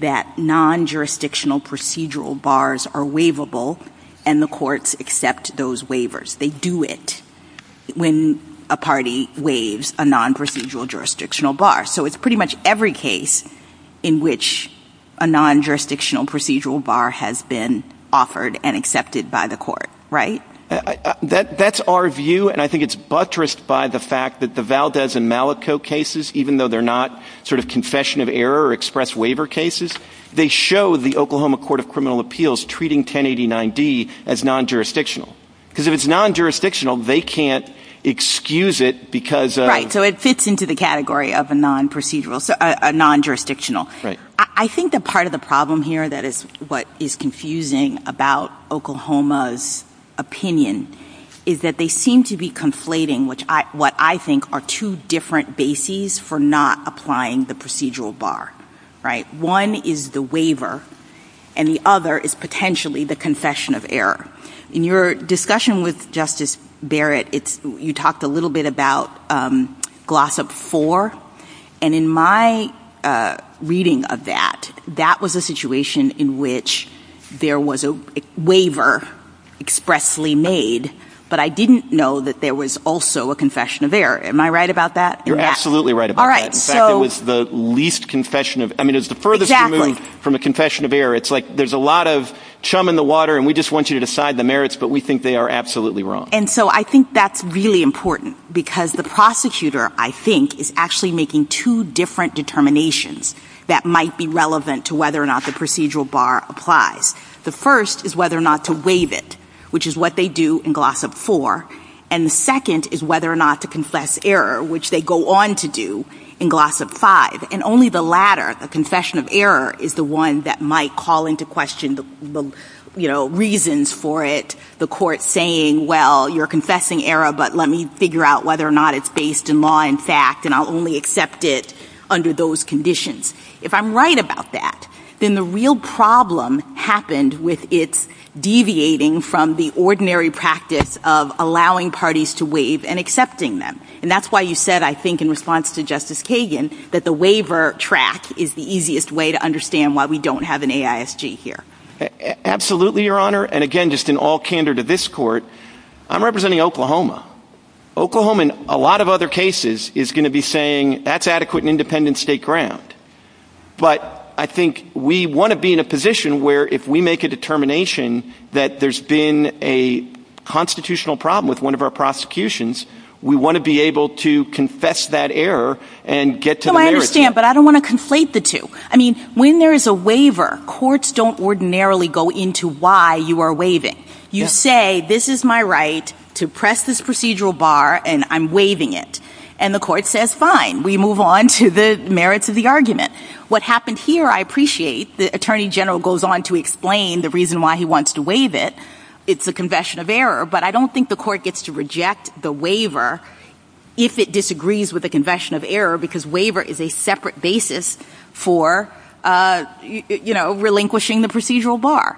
that non-jurisdictional procedural bars are waivable and the courts accept those waivers. They do it when a party waives a non-procedural jurisdictional bar. So it's pretty much every case in which a non-jurisdictional procedural bar has been offered and accepted by the court. Right? That's our view, and I think it's buttressed by the fact that the Valdez and Malico cases, even though they're not sort of confession of error or express waiver cases, they show the Oklahoma Court of Criminal Appeals treating 1089D as non-jurisdictional. Because if it's non-jurisdictional, they can't excuse it because of... Right. So it fits into the category of a non-procedural, a non-jurisdictional. Right. I think that part of the problem here that is what is confusing about Oklahoma's opinion is that they seem to be conflating what I think are two different bases for not applying the procedural bar. Right. One is the waiver, and the other is potentially the confession of error. In your discussion with Justice Barrett, you talked a little bit about Glossop 4, and in my reading of that, that was a situation in which there was a waiver expressly made, but I didn't know that there was also a confession of error. Am I right about that? You're absolutely right about that. In fact, it was the least confession of... I mean, it was the furthest removed from a confession of error. It's like there's a lot of chum in the water, and we just want you to decide the merits, but we think they are absolutely wrong. And so I think that's really important, because the prosecutor, I think, is actually making two different determinations that might be relevant to whether or not the procedural bar applies. The first is whether or not to waive it, which is what they do in Glossop 4. And the second is whether or not to confess error, which they go on to do in Glossop 5. And only the latter, the confession of error, is the one that might call into question the reasons for it, the court saying, well, you're confessing error, but let me figure out whether or not it's based in law and fact, and I'll only accept it under those conditions. If I'm right about that, then the real problem happened with it deviating from the ordinary practice of allowing parties to waive and accepting them. And that's why you said, I think, in response to Justice Kagan, that the waiver track is the easiest way to understand why we don't have an AISG here. Absolutely, Your Honor. And again, just in all candor to this court, I'm representing Oklahoma. Oklahoma in a lot of other cases is going to be saying that's adequate and independent state ground. But I think we want to be in a position where if we make a determination that there's been a constitutional problem with one of our prosecutions, we want to be able to confess that error and get to the merits. So I understand, but I don't want to conflate the two. I mean, when there is a waiver, courts don't ordinarily go into why you are waiving. You say, this is my right to press this procedural bar and I'm waiving it. And the court says, fine, we move on to the merits of the argument. What happened here, I appreciate. The attorney general goes on to explain the reason why he wants to waive it. It's the confession of error. But I don't think the court gets to reject the waiver if it disagrees with the confession of error, because waiver is a separate basis for relinquishing the procedural bar.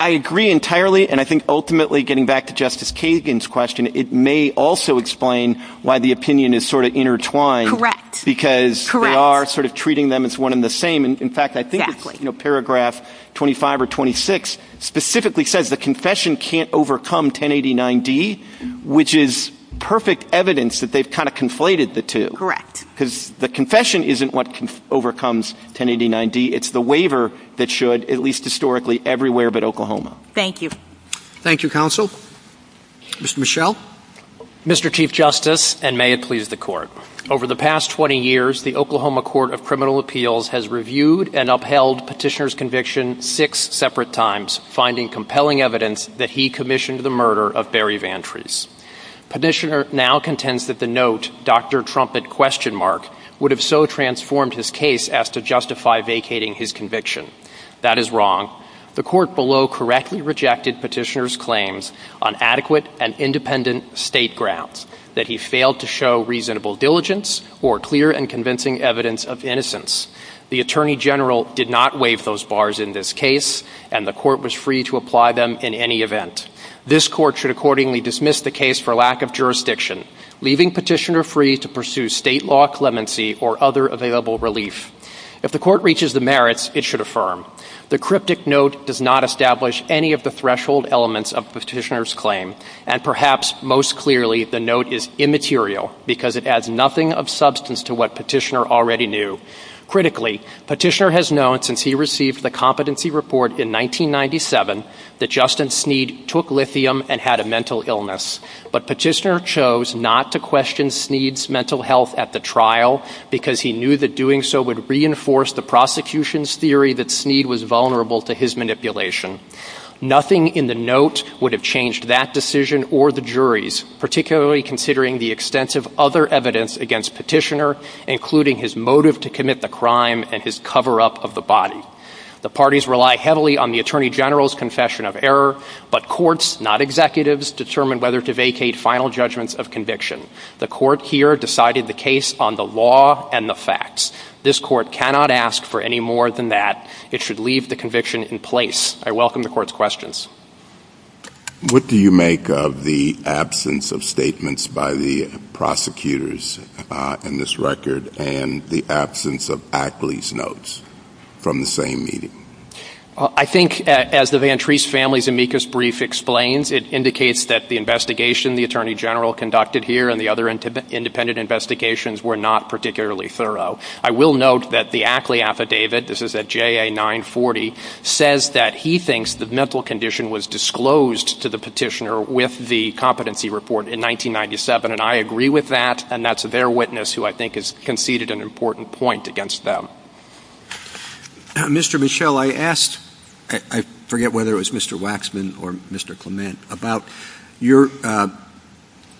I agree entirely. And I think ultimately, getting back to Justice Kagan's question, it may also explain why the opinion is sort of intertwined. Correct. Because they are sort of treating them as one and the same. In fact, I think paragraph 25 or 26 specifically says the confession can't overcome 1089D, which is perfect evidence that they've kind of conflated the two. Correct. Because the confession isn't what overcomes 1089D. It's the waiver that should, at least historically, everywhere but Oklahoma. Thank you. Thank you, counsel. Mr. Michel. Mr. Chief Justice, and may it please the Court, over the past 20 years, the Oklahoma Court of Criminal Appeals has reviewed and upheld Petitioner's conviction six separate times, finding compelling evidence that he commissioned the murder of Barry Vantrees. Petitioner now contends that the note, Dr. Trumpet? would have so transformed his case as to justify vacating his conviction. That is wrong. The Court below correctly rejected Petitioner's claims on adequate and independent state grounds, that he failed to show reasonable diligence or clear and convincing evidence of innocence. The Attorney General did not waive those bars in this case, and the Court was free to apply them in any event. This Court should accordingly dismiss the case for lack of jurisdiction, leaving Petitioner free to pursue state law clemency or other available relief. If the Court reaches the merits, it should affirm. The cryptic note does not establish any of the threshold elements of Petitioner's claim, and perhaps most clearly, the note is immaterial, because it adds nothing of substance to what Petitioner already knew. Critically, Petitioner has known since he received the competency report in 1997 that Justin Sneed took lithium and had a mental illness. But Petitioner chose not to question Sneed's mental health at the trial, because he knew that doing so would reinforce the prosecution's theory that Sneed was vulnerable to his manipulation. Nothing in the note would have changed that decision or the juries, particularly considering the extensive other evidence against Petitioner, including his motive to commit the crime and his cover-up of the body. The parties rely heavily on the Attorney General's confession of error, but courts, not executives, determine whether to vacate final judgments of conviction. The Court here decided the case on the law and the facts. This Court cannot ask for any more than that. It should leave the conviction in place. I welcome the Court's questions. What do you make of the absence of statements by the prosecutors in this record and the absence of Ackley's notes from the same meeting? I think, as the Vantrese family's amicus brief explains, it indicates that the investigation the Attorney General conducted here and the other independent investigations were not particularly thorough. I will note that the Ackley affidavit, this is at JA 940, says that he thinks the mental condition was disclosed to the Petitioner with the competency report in 1997. And I agree with that, and that's their witness who I think has conceded an important point against them. Mr. Michel, I asked, I forget whether it was Mr. Waxman or Mr. Clement, about your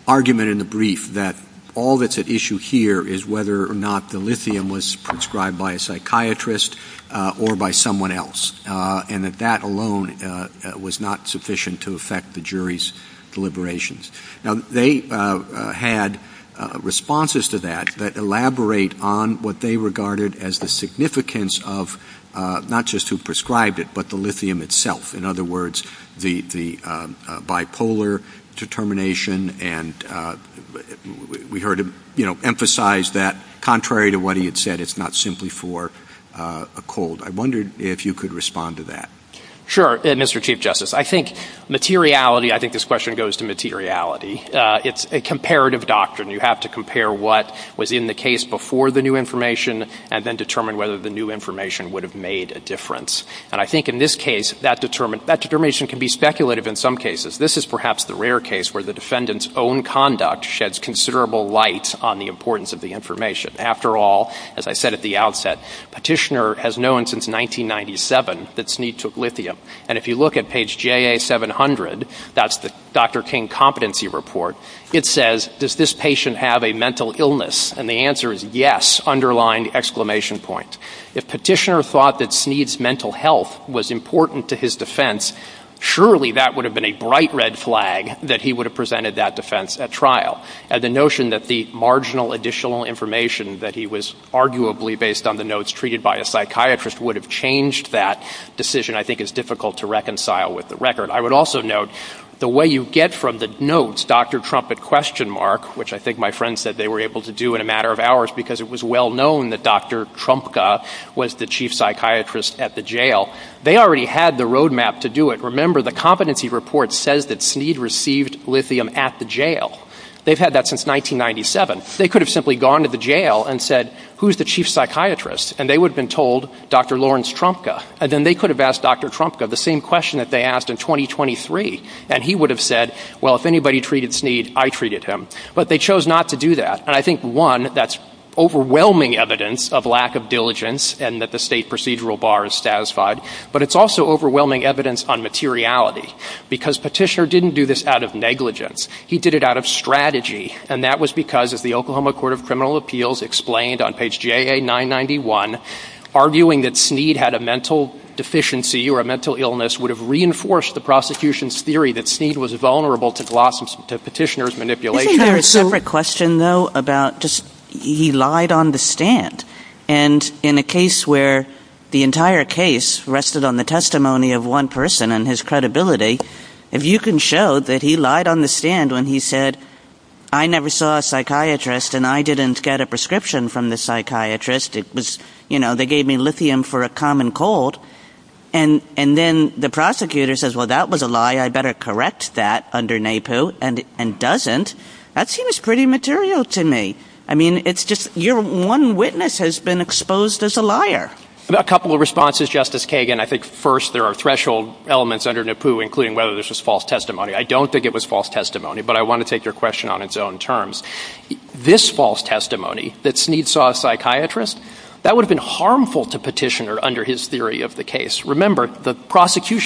argument in the brief that all that's at issue here is whether or not the lithium was prescribed by a psychiatrist or by someone else, and that that alone was not sufficient to affect the jury's deliberations. Now, they had responses to that that elaborate on what they regarded as the significance of, not just who prescribed it, but the lithium itself. In other words, the bipolar determination, and we heard him emphasize that, contrary to what he had said, it's not simply for a cold. I wondered if you could respond to that. Sure, Mr. Chief Justice. I think materiality, I think this question goes to materiality. It's a comparative doctrine. You have to compare what was in the case before the new information, and then determine whether the new information would have made a difference. And I think in this case, that determination can be speculative in some cases. This is perhaps the rare case where the defendant's own conduct sheds considerable light on the importance of the information. After all, as I said at the outset, Petitioner has known since 1997 that Snead took lithium. And if you look at page J.A. 700, that's the Dr. King competency report, it says, does this patient have a mental illness? And the answer is yes, underlined exclamation point. If Petitioner thought that Snead's mental health was important to his defense, surely that would have been a bright red flag that he would have presented that defense at trial. And the notion that the marginal additional information that he was arguably based on the notes treated by a psychiatrist would have changed that decision, I think is difficult to reconcile with the record. I would also note the way you get from the notes, Dr. Trump at question mark, which I think my friends said they were able to do in a matter of hours because it was well known that Dr. Trumpka was the chief psychiatrist at the jail. They already had the road map to do it. Remember, the competency report says that Snead received lithium at the jail. They've had that since 1997. They could have simply gone to the jail and said, who's the chief psychiatrist? And they would have been told Dr. Lawrence Trumpka. And then they could have asked Dr. Trumpka the same question that they asked in 2023. And he would have said, well, if anybody treated Snead, I treated him. But they chose not to do that. And I think, one, that's overwhelming evidence of lack of diligence and that the state procedural bar is satisfied. But it's also overwhelming evidence on materiality, because Petitioner didn't do this out of negligence. He did it out of strategy. And that was because, as the Oklahoma Court of Criminal Appeals explained on page JA991, arguing that Snead had a mental deficiency or a mental illness would have reinforced the prosecution's theory that Snead was vulnerable to Petitioner's manipulation. And in a case where the entire case rested on the testimony of one person and his credibility, if you can show that he lied on the stand when he said, I never saw a psychiatrist and I didn't get a prescription from the psychiatrist. It was, you know, they gave me lithium for a common cold. And if you can show that he lied and doesn't, that seems pretty material to me. I mean, it's just your one witness has been exposed as a liar. A couple of responses, Justice Kagan. I think, first, there are threshold elements under NEPU, including whether this was false testimony. I don't think it was false testimony, but I want to take your question on its own terms. This false testimony that Snead saw a psychiatrist, that would have been harmful to Petitioner under his prosecution.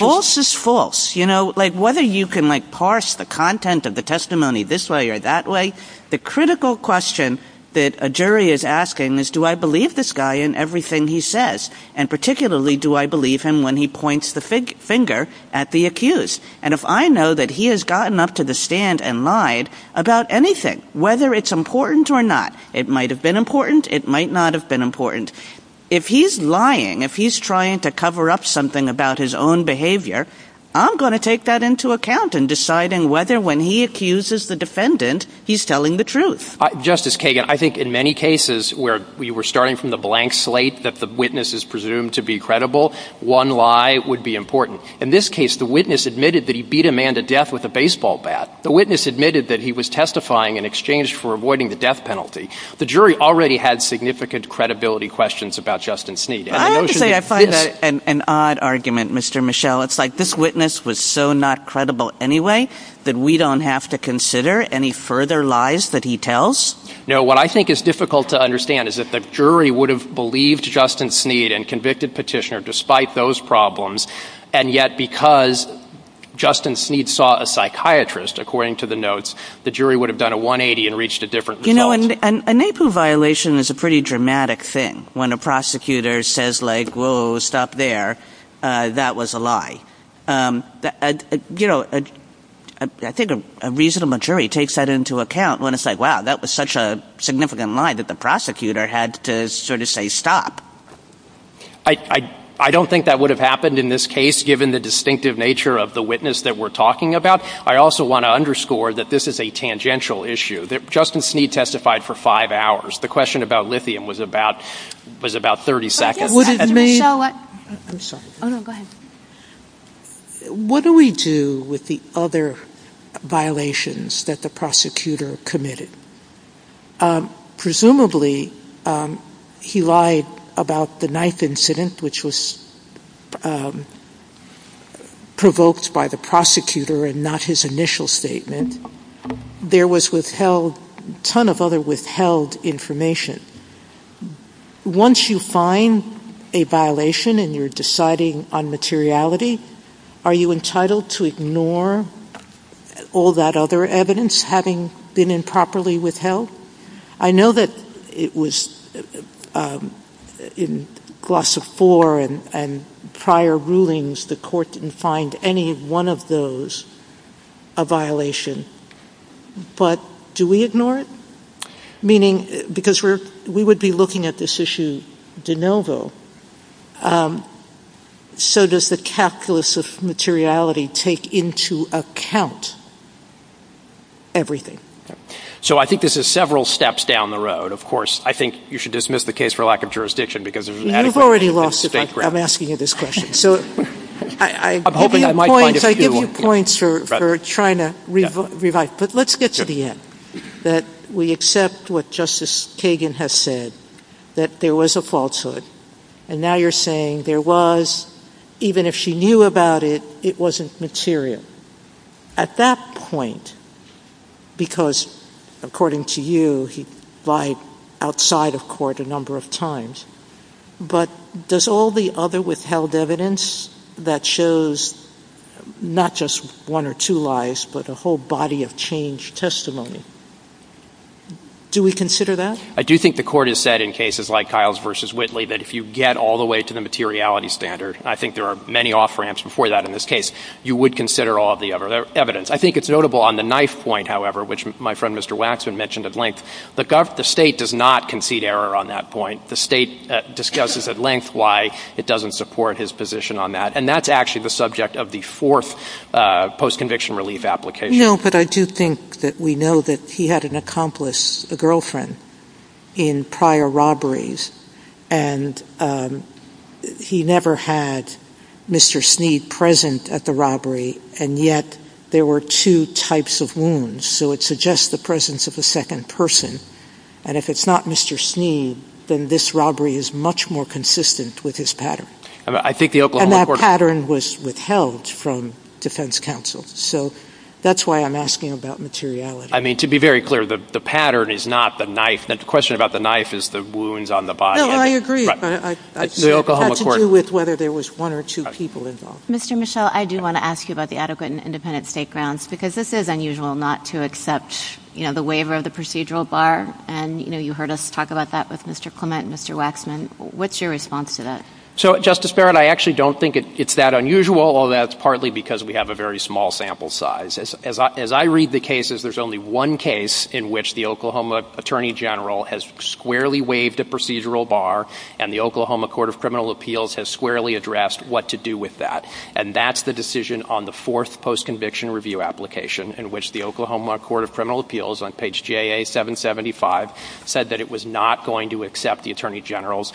False is false. You know, like whether you can like parse the content of the testimony this way or that way. The critical question that a jury is asking is, do I believe this guy in everything he says? And particularly, do I believe him when he points the finger at the accused? And if I know that he has gotten up to the stand and lied about anything, whether it's important or not, it might have been important. It might not have been important. If he's lying, if he's trying to cover up something about his own behavior, I'm going to take that into account in deciding whether when he accuses the defendant, he's telling the truth. Justice Kagan, I think in many cases where we were starting from the blank slate that the witness is presumed to be credible, one lie would be important. In this case, the witness admitted that he beat a man to death with a baseball bat. The witness admitted that he was testifying in exchange for avoiding the death penalty. The jury already had significant credibility questions about Justin Sneed. I find that an odd argument, Mr. Michelle. It's like this witness was so not credible anyway that we don't have to consider any further lies that he tells? No, what I think is difficult to understand is that the jury would have believed Justin Sneed and convicted Petitioner despite those problems, and yet because Justin Sneed saw a psychiatrist, according to the notes, the jury would have done a 180 and reached a different result. You know, a NAPU violation is a pretty dramatic thing. When a prosecutor says like, whoa, stop there, that was a lie. I think a reasonable jury takes that into account when it's like, wow, that was such a significant lie that the prosecutor had to sort of say stop. I don't think that would have happened in this case, given the distinctive nature of the witness that we're talking about. I also want to underscore that this is a tangential issue, that Justin Sneed testified for five hours. The question about lithium was about 30 seconds. What do we do with the other violations that the prosecutor committed? Presumably he lied about the ninth incident, which was provoked by the prosecutor and not his initial statement. There was withheld, a ton of other withheld information. Once you find a violation and you're deciding on materiality, are you entitled to ignore all that other evidence, having been improperly withheld? I know that it was in Glossa IV and prior rulings, the court didn't find any one of those a violation. But do we ignore it? Meaning, because we would be looking at this issue de novo, so does the calculus of materiality take into account everything? I think this is several steps down the road. I think you should dismiss the case for lack of jurisdiction. I'm asking you this question. Let's get to the end. We accept what Justice Kagan has said, that there was a falsehood. Now you're saying even if she knew about it, it wasn't material. At that point, because according to you, there was a falsehood. But does all the other withheld evidence that shows not just one or two lies, but a whole body of changed testimony, do we consider that? I do think the court has said in cases like Kyle's v. The state does not concede error on that point. The state discusses at length why it doesn't support his position on that. And that's actually the subject of the fourth postconviction relief application. But I do think that we know that he had an accomplice, a girlfriend, in prior robberies, and he never had Mr. Sneed present at the robbery, and yet there were two types of wounds. So it suggests the presence of the second person. And if it's not Mr. Sneed, then this robbery is much more consistent with his pattern. And that pattern was withheld from defense counsel. So that's why I'm asking about materiality. I mean, to be very clear, the pattern is not the knife. The question about the knife is the wounds on the body. No, I agree, but that's to do with whether there was one or two people involved. Mr. Michel, I do want to ask you about the adequate and independent state grounds, because this is unusual not to accept the waiver of the procedural bar. And, you know, you heard us talk about that with Mr. Clement and Mr. Waxman. What's your response to that? So, Justice Barrett, I actually don't think it's that unusual. That's partly because we have a very small sample size. As I read the cases, there's only one case in which the Oklahoma Attorney General has squarely waived the procedural bar, and the Oklahoma Court of Criminal Appeals has squarely addressed what to do with that. And that's the decision on the fourth post-conviction review application, in which the Oklahoma Court of Criminal Appeals, on page J.A. 775, said that it was not going to accept the Attorney General's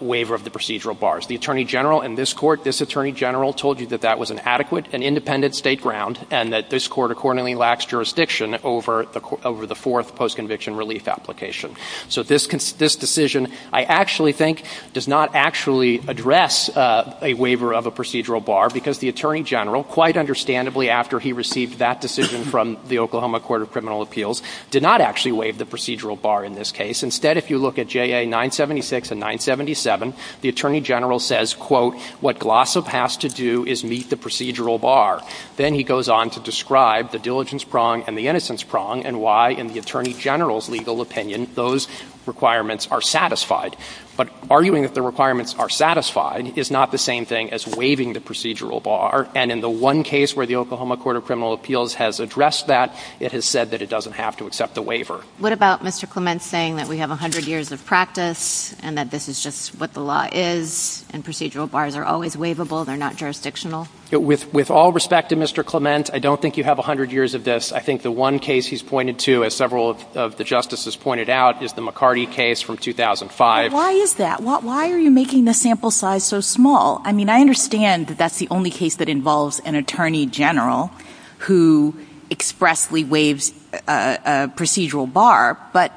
waiver of the procedural bars. The Attorney General in this court, this Attorney General, told you that that was an adequate and independent state ground and that this court accordingly lacks jurisdiction over the fourth post-conviction relief application. So this decision, I actually think, does not actually address a waiver of a procedural bar, because the Attorney General, quite understandably, after he received that decision from the Oklahoma Court of Criminal Appeals, did not actually waive the procedural bar in this case. Instead, if you look at J.A. 976 and 977, the Attorney General says, quote, what Glossop has to do is meet the procedural bar. Then he goes on to describe the diligence prong and the innocence prong and why, in the Attorney General's legal opinion, those requirements are satisfied. But arguing that the requirements are satisfied is not the same thing as waiving the procedural bar. And in the one case where the Oklahoma Court of Criminal Appeals has addressed that, it has said that it doesn't have to accept the waiver. What about Mr. Clement saying that we have 100 years of practice and that this is just what the law is and procedural bars are always waivable, they're not jurisdictional? With all respect to Mr. Clement, I don't think you have 100 years of this. I think the one case he's pointed to, as several of the Justices pointed out, is the McCarty case from 2005. But why is that? Why are you making the sample size so small? I mean, I understand that that's the only case that involves an Attorney General who expressly waives a procedural bar, but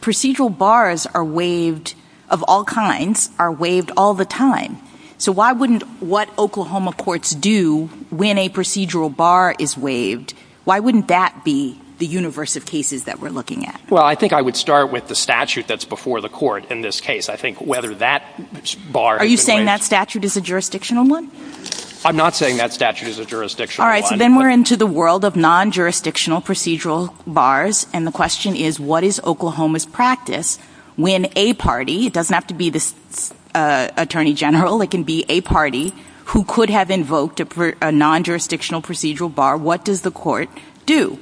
procedural bars are waived of all kinds, are waived all the time. So why wouldn't what Oklahoma courts do when a procedural bar is waived, why wouldn't that be the universe of cases that we're looking at? Well, I think I would start with the statute that's before the court in this case. I think whether that bar... Are you saying that statute is a jurisdictional one? I'm not saying that statute is a jurisdictional one. All right, then we're into the world of non-jurisdictional procedural bars, and the question is what is Oklahoma's practice when a party, it doesn't have to be the Attorney General, it can be a party who could have invoked a non-jurisdictional procedural bar, what does the court do?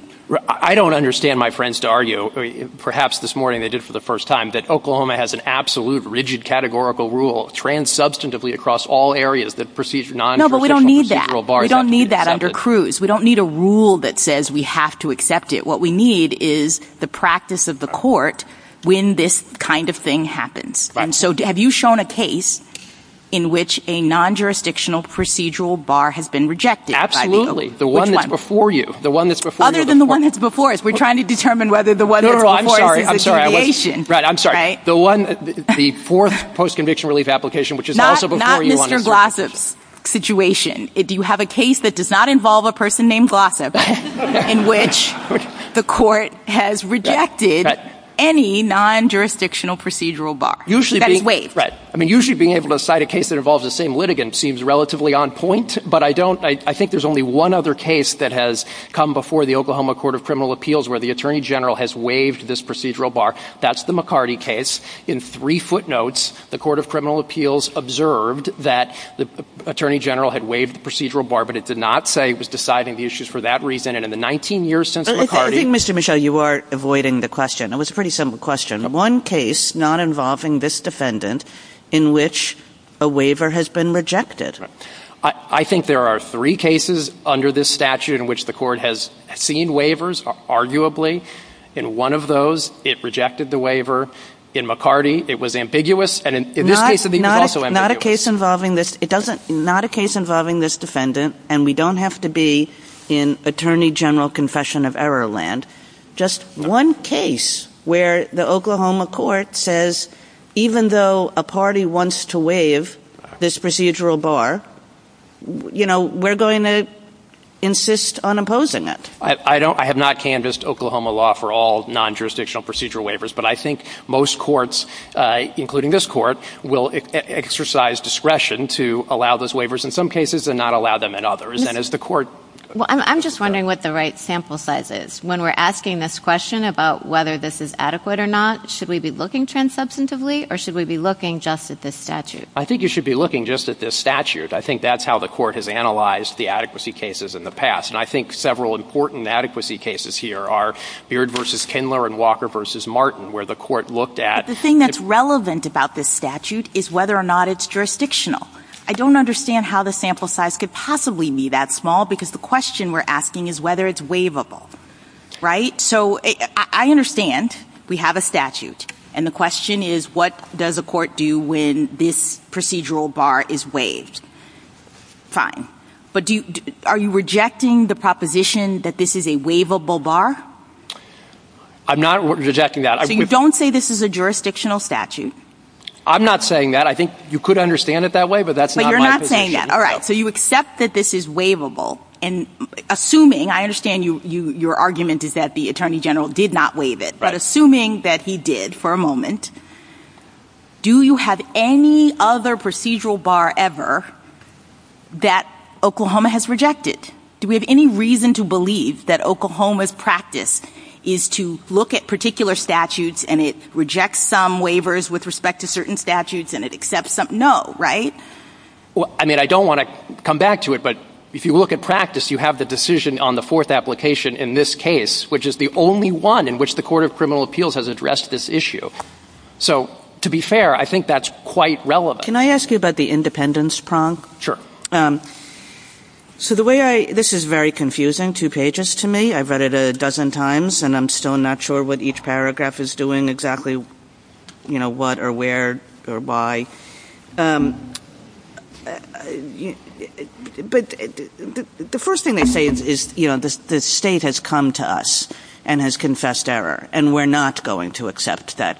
I don't understand my friends to argue, perhaps this morning they did for the first time, that Oklahoma has an absolute rigid categorical rule trans-substantively across all areas that procedural... No, but we don't need that. We don't need that under Cruz. We don't need a rule that says we have to accept it. What we need is the practice of the court when this kind of thing happens. And so have you shown a case in which a non-jurisdictional procedural bar has been rejected? Absolutely. The one that's before you. Other than the one that's before us. We're trying to determine whether the one that's before us is a creation. Right, I'm sorry. The one, the fourth post-conviction relief application which is also before you... Not Mr. Glossop's situation. If you have a case that does not involve a person named Glossop, in which the court has rejected any non-jurisdictional procedural bar. Usually being able to cite a case that involves the same litigant seems relatively on point, but I don't, I think there's only one other case that has come before the Oklahoma Court of Criminal Appeals where the Attorney General has waived this procedural bar. That's the McCarty case. In three footnotes, the Court of Criminal Appeals observed that the Attorney General had waived the procedural bar, but it did not say it was deciding the issues for that reason. And in the 19 years since McCarty... Mr. Michel, you are avoiding the question. It was a pretty simple question. One case not involving this defendant in which a waiver has been rejected. I think there are three cases under this statute in which the court has seen waivers, arguably. In one of those, it rejected the waiver. In McCarty, it was ambiguous, and in this case it was also ambiguous. Not a case involving this, it doesn't, not a case involving this defendant, and we don't have to be in Attorney General Confession of Error land. Just one case where the Oklahoma Court says, even though a party wants to waive this procedural bar, you know, we're going to insist on opposing it. I don't, I have not canvassed Oklahoma law for all non-jurisdictional procedural waivers, but I think most courts, including this court, will exercise discretion to allow those waivers in some cases and not allow them in others. And as the court... Well, I'm just wondering what the right sample size is. When we're asking this question about whether this is adequate or not, should we be looking trans-substantively, or should we be looking just at this statute? I think you should be looking just at this statute. I think that's how the court has analyzed the adequacy cases in the past. And I think several important adequacy cases here are Beard v. Kindler and Walker v. Martin, where the court looked at... But the thing that's relevant about this statute is whether or not it's jurisdictional. I don't understand how the sample size could possibly be that small, because the question we're asking is whether it's waivable, right? So I understand we have a statute, and the question is, what does a court do when this procedural bar is waived? Fine. But are you rejecting the proposition that this is a waivable bar? I'm not rejecting that. So you don't say this is a jurisdictional statute? I'm not saying that. I think you could understand it that way, but that's not my position. But you're not saying that. All right. So you accept that this is waivable. And assuming... I understand your argument is that the Attorney General did not waive it. Right. But assuming that he did, for a moment, do you have any other reason to believe that Oklahoma's practice is to look at particular statutes and it rejects some waivers with respect to certain statutes and it accepts some... No, right? Well, I mean, I don't want to come back to it, but if you look at practice, you have the decision on the fourth application in this case, which is the only one in which the Court of Criminal Appeals has addressed this in a way that is relevant. Can I ask you about the independence prong? Sure. So the way I... This is very confusing, two pages to me. I've read it a dozen times and I'm still not sure what each paragraph is doing exactly, you know, what or where or why. But the first thing they say is, you know, the state has come to us and has said, you know, we're not going to accept that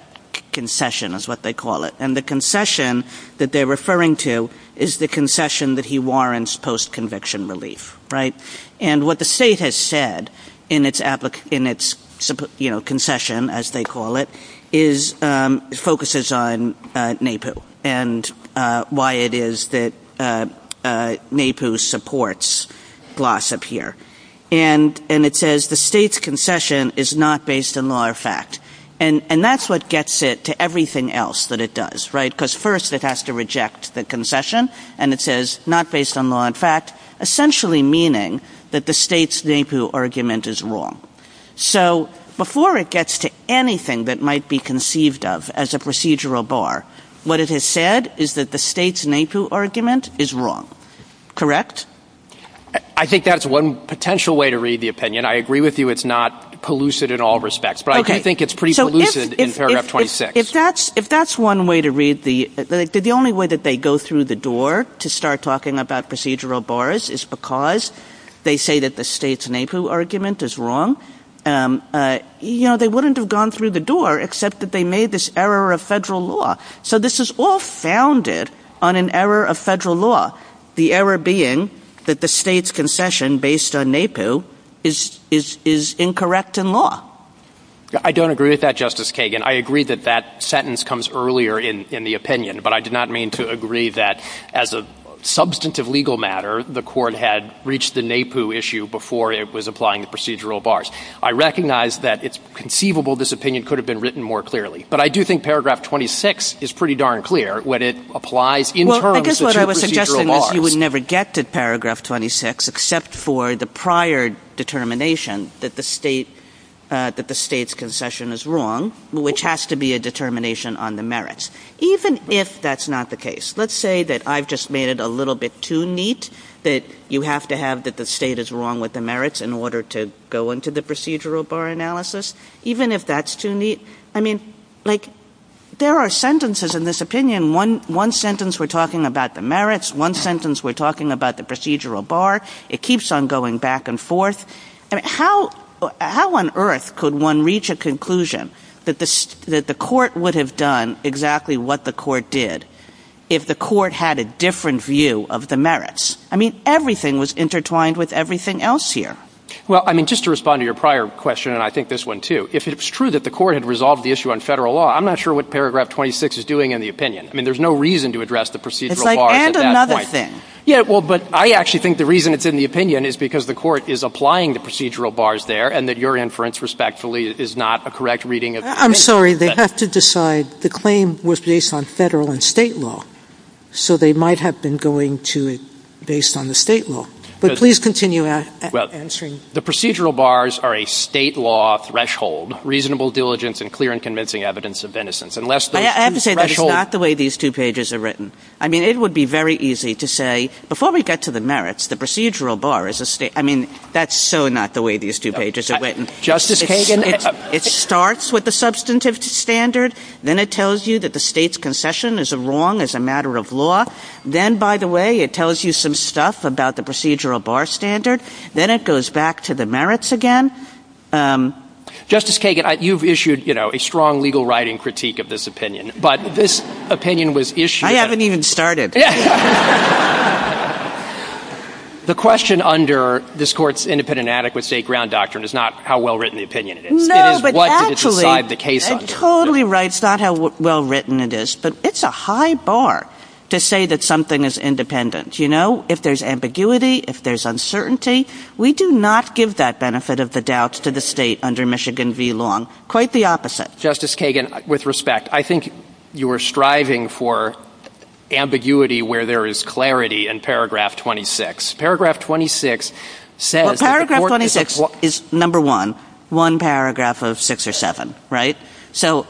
concession, is what they call it. And the concession that they're referring to is the concession that he warrants post-conviction relief, right? And what the state has said in its, you know, concession, as they call it, focuses on NAPU and why it is that NAPU supports NAPU, right? And it says, the state's concession is not based on law or fact. And that's what gets it to everything else that it does, right? Because first it has to reject the concession and it says, not based on law and fact, essentially meaning that the state's NAPU argument is wrong. So before it gets to anything that might be conceived of as a procedural bar, what it has said is that the state's NAPU argument is wrong, correct? I think that's one potential way to read the opinion. I agree with you. It's not polluted in all respects, but I do think it's pretty polluted in paragraph 26. If that's one way to read the, the only way that they go through the door to start talking about procedural bars is because they say that the state's NAPU argument is wrong, you know, they wouldn't have gone through the door except that they made this error of federal law. So this is all founded on an error of federal law. The error being that the state's concession based on NAPU is, is, is incorrect in law. I don't agree with that, Justice Kagan. I agree that that sentence comes earlier in, in the opinion, but I did not mean to agree that as a substantive legal matter, the court had reached the NAPU issue before it was applying the procedural bars. I recognize that it's conceivable this opinion could have been written more clearly, but I do think paragraph 26 is pretty darn clear when it applies in terms of procedural bars. You would never get to paragraph 26 except for the prior determination that the state, that the state's concession is wrong, which has to be a determination on the merits, even if that's not the case. Let's say that I've just made it a little bit too neat that you have to have that the state is wrong with the merits in order to go into the procedural bar analysis, even if that's too neat. I mean, like there are sentences in this opinion, one, one sentence we're talking about the merits, one sentence we're talking about the procedural bar. It keeps on going back and forth. How, how on earth could one reach a conclusion that this, that the court would have done exactly what the court did if the court had a different view of the merits? I mean, everything was intertwined with everything else here. Well, I mean, just to respond to your prior question, and I think this one too, if it's true that the court had resolved the issue on federal law, I'm not sure what paragraph 26 is doing in the opinion. I mean, there's no reason to address the procedural bars at that point. And another thing. Yeah, well, but I actually think the reason it's in the opinion is because the court is applying the procedural bars there and that your inference, respectfully, is not a correct reading of it. I'm sorry. They have to decide the claim was based on federal and state law. So they might have been going to it based on the state law, but please continue answering. The procedural bars are a state law threshold, reasonable diligence and clear and convincing evidence of innocence, unless the threshold is not the way these two pages are written. I mean, it would be very easy to say before we get to the merits, the procedural bar is a state. I mean, that's so not the way these two pages are written. Justice Kagan, it starts with the substantive standard. Then it tells you that the state's concession is wrong as a matter of law. Then, by the way, it tells you some stuff about the procedural bar standard. Then it goes back to the merits again. Justice Kagan, you've issued a strong legal writing critique of this opinion, but this opinion was issued. I haven't even started. The question under this court's independent and adequate state ground doctrine is not how well-written the opinion is. No, but actually, it's totally right. It's not how well-written it is, but it's a high bar to say that something is independent. You know, if there's ambiguity, if there's uncertainty, we do not give that benefit of the doubts to the state under Michigan v. Long. Quite the opposite. Justice Kagan, with respect, I think you were striving for ambiguity where there is clarity in paragraph 26. Paragraph 26 says- Paragraph 26 is number one, one paragraph of six or seven, right? So,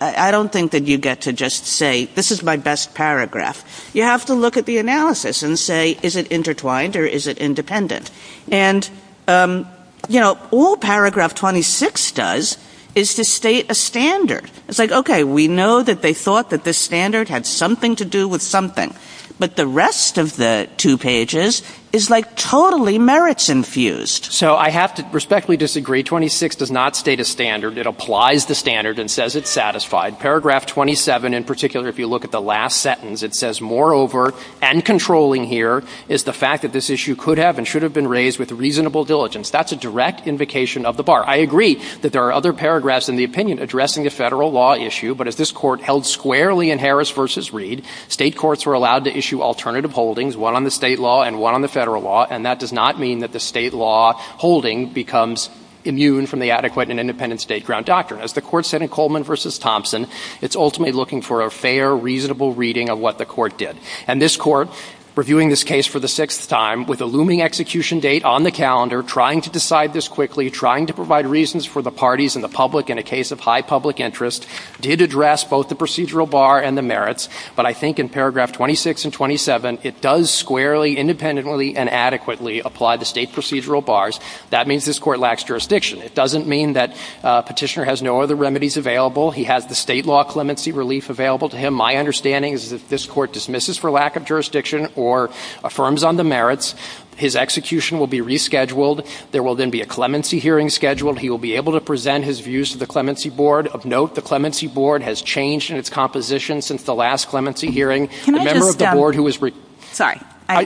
I don't think that you get to just say, this is my best paragraph. You have to look at the analysis and say, is it intertwined or is it independent? And, you know, all paragraph 26 does is to state a standard. It's like, okay, we know that they thought that this standard had something to do with something, but the rest of the two pages is, like, totally merits-infused. So, I have to respectfully disagree. 26 does not state a standard. It applies the standard and says it's satisfied. Paragraph 27, in particular, if you look at the last sentence, it says, moreover, and controlling here is the fact that this issue could have and should have been raised with reasonable diligence. That's a direct invocation of the bar. I agree that there are other paragraphs in the opinion addressing a federal law issue, but as this court held squarely in Harris v. Reed, state courts were allowed to issue alternative holdings, one on the state law and one on the federal law, and that does not mean that the state law holding becomes immune from the adequate and independent state ground doctrine. As the court said in Coleman v. Thompson, it's ultimately looking for a fair, reasonable reading of what the court did. And this court, reviewing this case for the sixth time, with a looming execution date on the calendar, trying to decide this quickly, trying to provide reasons for the parties and the public in a case of high public interest, did address both the procedural bar and the merits, but I think in paragraph 26 and 27, it does squarely, independently, and adequately apply the state procedural bars. That means this court lacks jurisdiction. It doesn't mean that Petitioner has no other remedies available. He has the state law clemency relief available to him. My understanding is that this court dismisses for lack of jurisdiction or affirms on the merits. His execution will be rescheduled. There will then be a clemency hearing scheduled. He will be able to present his views to the clemency board. Of note, the clemency board has changed in its composition since the last clemency hearing. The member of the board who was recused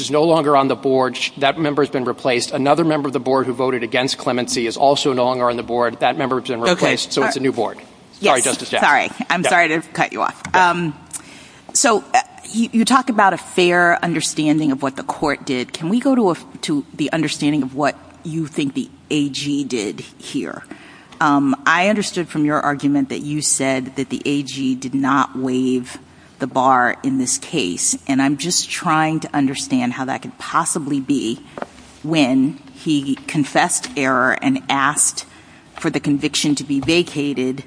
is no longer on the board. That member has been replaced. Another member of the board who voted against clemency is also no longer on the board. That member has been replaced, so it's a new board. Sorry, Justice Gabbard. So you talk about a fair understanding of what the court did. Can we go to the understanding of what you think the AG did here? I understood from your argument that you said that the AG did not waive the bar in this case. And I'm just trying to understand how that could possibly be when he confessed error and asked for the conviction to be vacated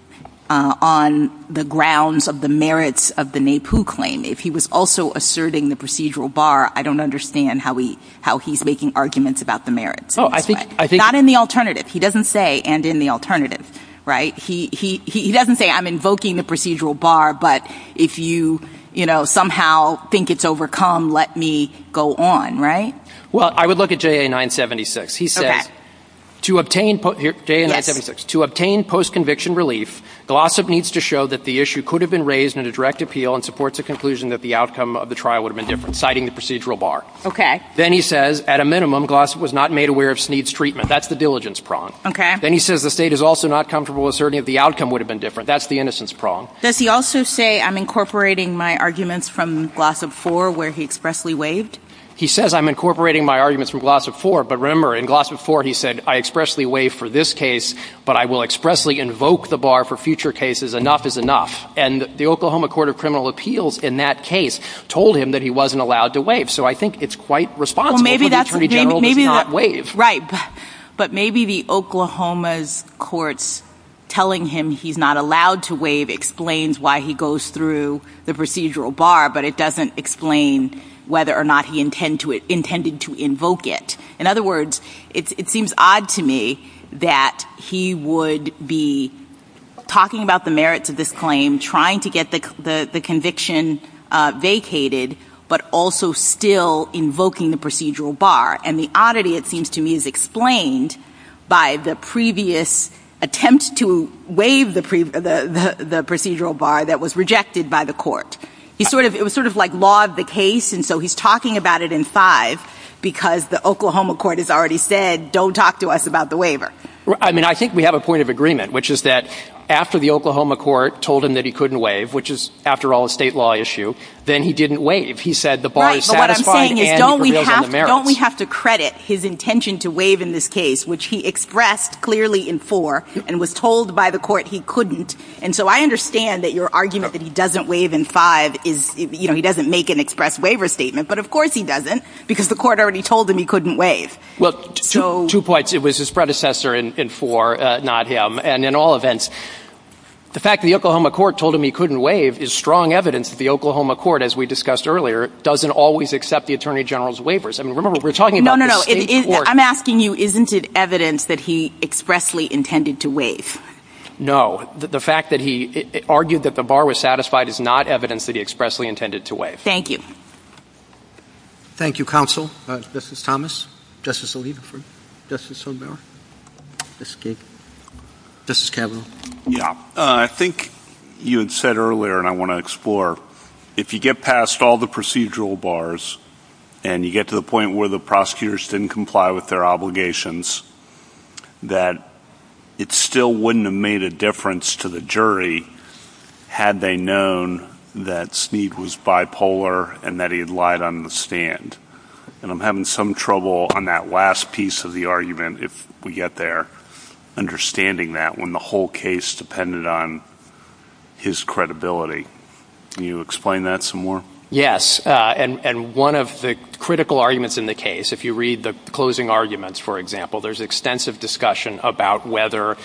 on the grounds of the merits of the NAPU claim. If he was also asserting the procedural bar, I don't understand how he's making arguments about the merits. Not in the alternative. He doesn't say, and in the alternative. He doesn't say, I'm invoking the procedural bar, but if you somehow think it's overcome, let me go on. Well, I would look at JA 976. He said, to obtain post-conviction relief, Glossop needs to show that the issue could have been raised in a direct appeal and supports the conclusion that the outcome of the trial would have been different, citing the procedural bar. Then he says, at a minimum, Glossop was not made aware of Snead's treatment. That's the diligence prong. Then he says the state is also not comfortable asserting that the outcome would have been different. That's the innocence prong. Does he also say, I'm incorporating my arguments from Glossop 4, where he expressly waived? He says, I'm incorporating my arguments from Glossop 4. But remember, in Glossop 4, he said, I expressly waived for this case, but I will expressly invoke the bar for future cases. Enough is enough. And the Oklahoma Court of Criminal Appeals, in that case, told him that he wasn't allowed to waive. So I think it's quite responsible for the Attorney General to not waive. But maybe the Oklahoma's courts telling him he's not allowed to waive explains why he goes through the procedural bar, but it doesn't explain whether or not he intended to invoke it. In other words, it seems odd to me that he would be talking about the merits of this claim, trying to get the conviction vacated, but also still invoking the procedural bar. And the oddity, it seems to me, is explained by the previous attempt to waive the procedural bar that was rejected by the court. It was sort of like law of the case, and so he's talking about it in 5, because the Oklahoma court has already said, don't talk to us about the waiver. I mean, I think we have a point of agreement, which is that after the Oklahoma court told him that he couldn't waive, which is, after all, a state law issue, then he didn't waive. He said the bar is satisfied, and he revealed the merits. Don't we have to credit his intention to waive in this case, which he expressed clearly in 4, and was told by the court he couldn't. And so I understand that your argument that he doesn't waive in 5 is, you know, he doesn't make an express waiver statement, but of course he doesn't, because the court already told him he couldn't waive. Well, two points. It was his predecessor in 4, not him. And in all events, the fact that the Oklahoma court told him he couldn't waive is strong evidence that the Oklahoma court, as we discussed earlier, doesn't always accept the Attorney General's waivers. I mean, remember, we're talking about the state court. No, no, no. I'm asking you, isn't it evidence that he expressly intended to waive? No. The fact that he argued that the bar was satisfied is not evidence that he expressly intended to waive. Thank you. Thank you, Counsel. Justice Thomas? Justice O'Leary? Justice O'Mara? Justice Kagan? Justice Kavanaugh? Yeah. I think you had said earlier, and I want to explore, if you get past all the procedural bars, and you get to the point where the prosecutors didn't comply with their obligations, that it still wouldn't have made a difference to the jury had they known that Sneed was bipolar and that he had lied on the stand. And I'm having some trouble on that last piece of the argument, if we get there, understanding that when the whole case depended on his credibility. Can you explain that some more? Yes. And one of the critical arguments in the case, if you read the closing arguments, for example, there's extensive discussion about whether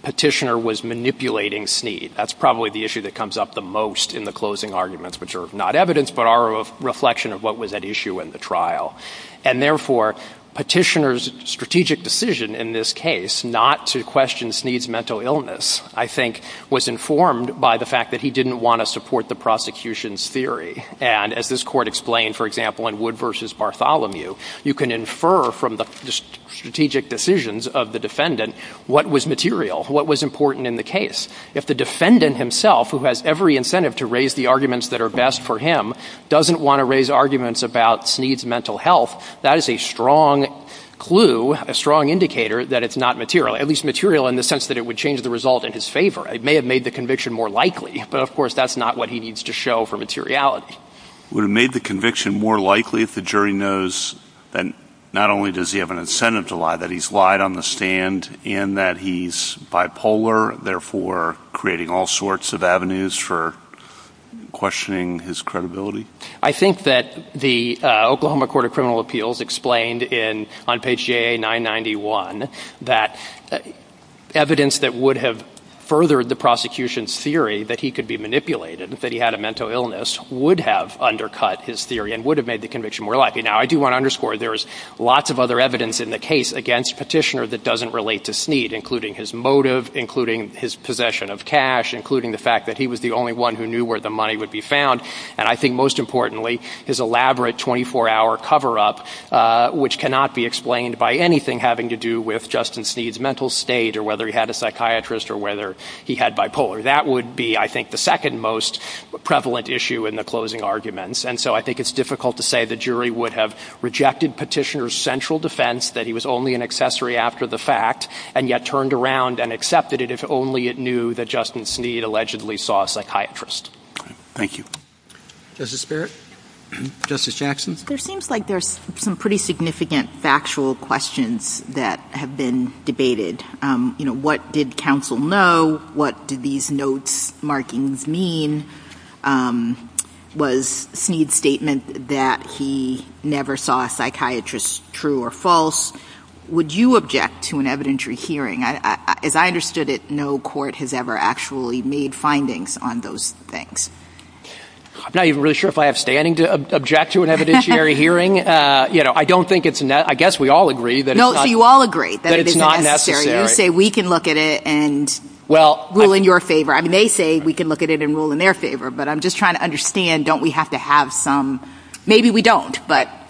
Petitioner was manipulating Sneed. That's probably the issue that comes up the most in the closing arguments, which are not evidence, but are a reflection of what was at issue in the trial. And therefore, Petitioner's strategic decision in this case not to question Sneed's mental illness, I think, was informed by the fact that he didn't want to support the prosecution's theory. And as this court explained, for example, in Wood v. Bartholomew, you can infer from the strategic decisions of the defendant what was material, what was important in the case. If the defendant himself, who has every incentive to raise the arguments that are best for him, doesn't want to raise arguments about Sneed's mental health, that is a strong clue, a strong indicator that it's not material, at least material in the sense that it would change the result in his favor. It may have made the conviction more likely, but of course that's not what he needs to show for materiality. Would it have made the conviction more likely if the jury knows that not only does he have an incentive to lie, that he's lied on the stand and that he's bipolar, therefore creating all sorts of avenues for questioning his credibility? I think that the Oklahoma Court of Criminal Appeals explained on page JA991 that evidence that would have furthered the prosecution's theory that he could be manipulated, that he had a mental illness, would have undercut his theory and would have made the conviction more likely. Now, I do want to underscore there's lots of other evidence in the case against Petitioner that doesn't relate to Sneed, including his motive, including his possession of cash, including the fact that he was the only one who knew where the money would be found. And I think most importantly, his elaborate 24-hour cover-up, which cannot be explained by anything having to do with Justin Sneed's mental state or whether he had a psychiatrist or whether he had bipolar. That would be, I think, the second most prevalent issue in the closing arguments. And so I think it's difficult to say the jury would have rejected Petitioner's central defense that he was only an accessory after the fact and yet turned around and accepted it if only it knew that Justin Sneed allegedly saw a psychiatrist. Thank you. Justice Barrett? Justice Jackson? There seems like there's some pretty significant factual questions that have been debated. You know, what did counsel know? What did these notes, markings mean? Was Sneed's statement that he never saw a psychiatrist true or false? Would you object to an evidentiary hearing? As I understood it, no court has ever actually made findings on those things. I'm not even really sure if I have standing to object to an evidentiary hearing. You know, I don't think it's necessary. I guess we all agree that it's not necessary. They say we can look at it and rule in your favor. I mean, they say we can look at it and rule in their favor. But I'm just trying to understand, don't we have to have some? Maybe we don't.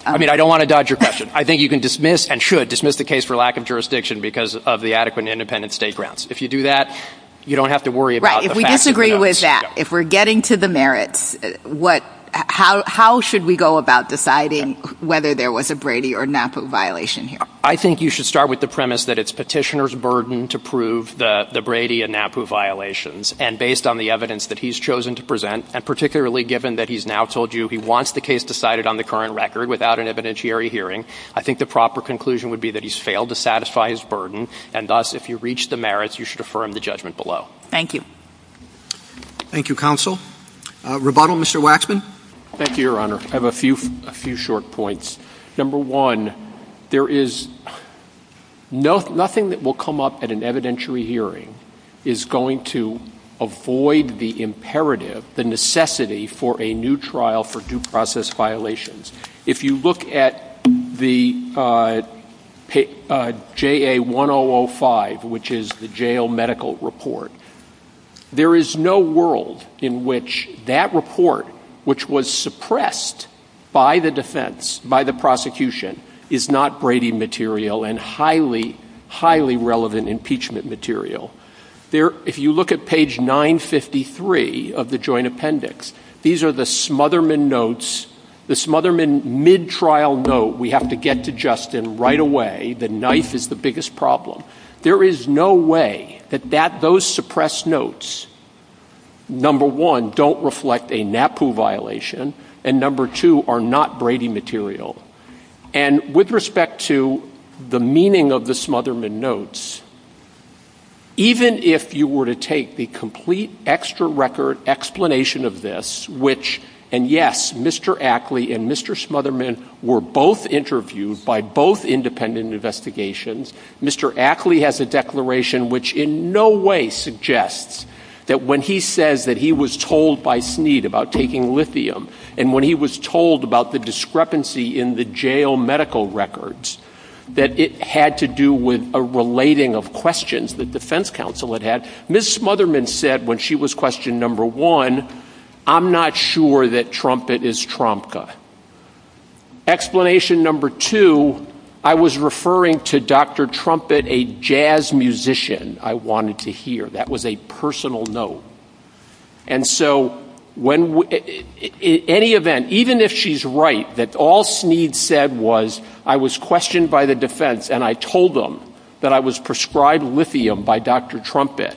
I mean, I don't want to dodge your question. I think you can dismiss and should dismiss the case for lack of jurisdiction because of the adequate and independent state grounds. If you do that, you don't have to worry about the facts. Right. If we disagree with that, if we're getting to the merits, how should we go about deciding whether there was a Brady or NAPU violation here? I think you should start with the premise that it's petitioner's burden to prove the Brady and NAPU violations. And based on the evidence that he's chosen to present, and particularly given that he's now told you he wants the case decided on the current record without an evidentiary hearing, I think the proper conclusion would be that he's failed to satisfy his burden. And thus, if you reach the merits, you should affirm the judgment below. Thank you. Thank you, Counsel. Rebuttal, Mr. Waxman. Thank you, Your Honor. I have a few short points. Number one, there is nothing that will come up at an evidentiary hearing is going to avoid the imperative, the necessity for a new trial for due process violations. If you look at the J.A. 1005, which is the jail medical report, there is no world in which that report, which was suppressed by the defense, by the prosecution, is not Brady material and highly, highly relevant impeachment material. If you look at page 953 of the joint appendix, these are the notes, the Smotherman mid-trial note, we have to get to Justin right away. The knife is the biggest problem. There is no way that those suppressed notes, number one, don't reflect a NAPU violation, and number two, are not Brady material. And with respect to the meaning of the Smotherman notes, even if you were to take the complete extra record explanation of this, which, and yes, Mr. Ackley and Mr. Smotherman were both interviewed by both independent investigations, Mr. Ackley has a declaration which in no way suggests that when he says that he was told by Snead about taking lithium, and when he was told about the discrepancy in the jail medical records, that it had to do with a relating of questions the defense counsel had had, Ms. Smotherman said when she was questioned, number one, I'm not sure that Trumpet is Tromka. Explanation number two, I was referring to Dr. Trumpet, a jazz musician I wanted to hear. That was a personal note. And so when, in any event, even if she's right, that all Snead said was, I was questioned by the defense and I told them that I was prescribed lithium by Dr. Trumpet,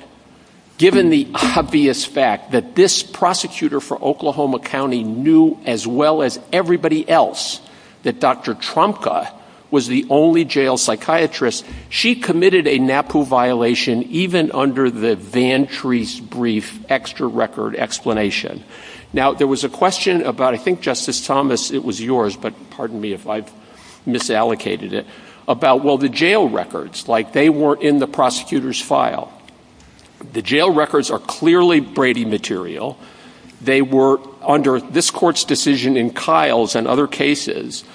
given the obvious fact that this prosecutor for Oklahoma County knew as well as everybody else that Dr. Tromka was the only jail psychiatrist, she committed a NAPU violation even under the VanTrees law. And so that's why I'm asking for this brief extra record explanation. Now, there was a question about, I think, Justice Thomas, it was yours, but pardon me if I misallocated it, about, well, the jail records, like they were in the prosecutor's file. The jail records are clearly Brady material. They were under this court's decision in 2013. So what is in the jail records is not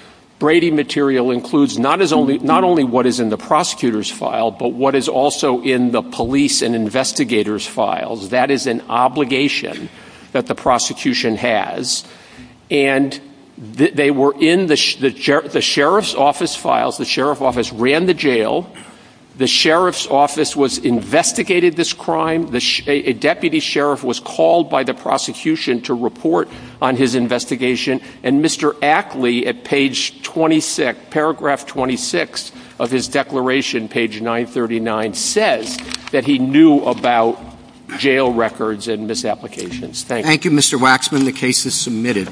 what is in the prosecutor's file, but what is also in the police and investigators files. That is an obligation that the prosecution has. And they were in the sheriff's office files. The sheriff's office ran the jail. The sheriff's office was investigated this crime. A deputy sheriff was called by the prosecution to report on his investigation. And Mr. Ackley, at paragraph 26 of his declaration, page 939, says that he knew about jail records and misapplications. Thank you. Thank you, Mr. Waxman. The case is submitted.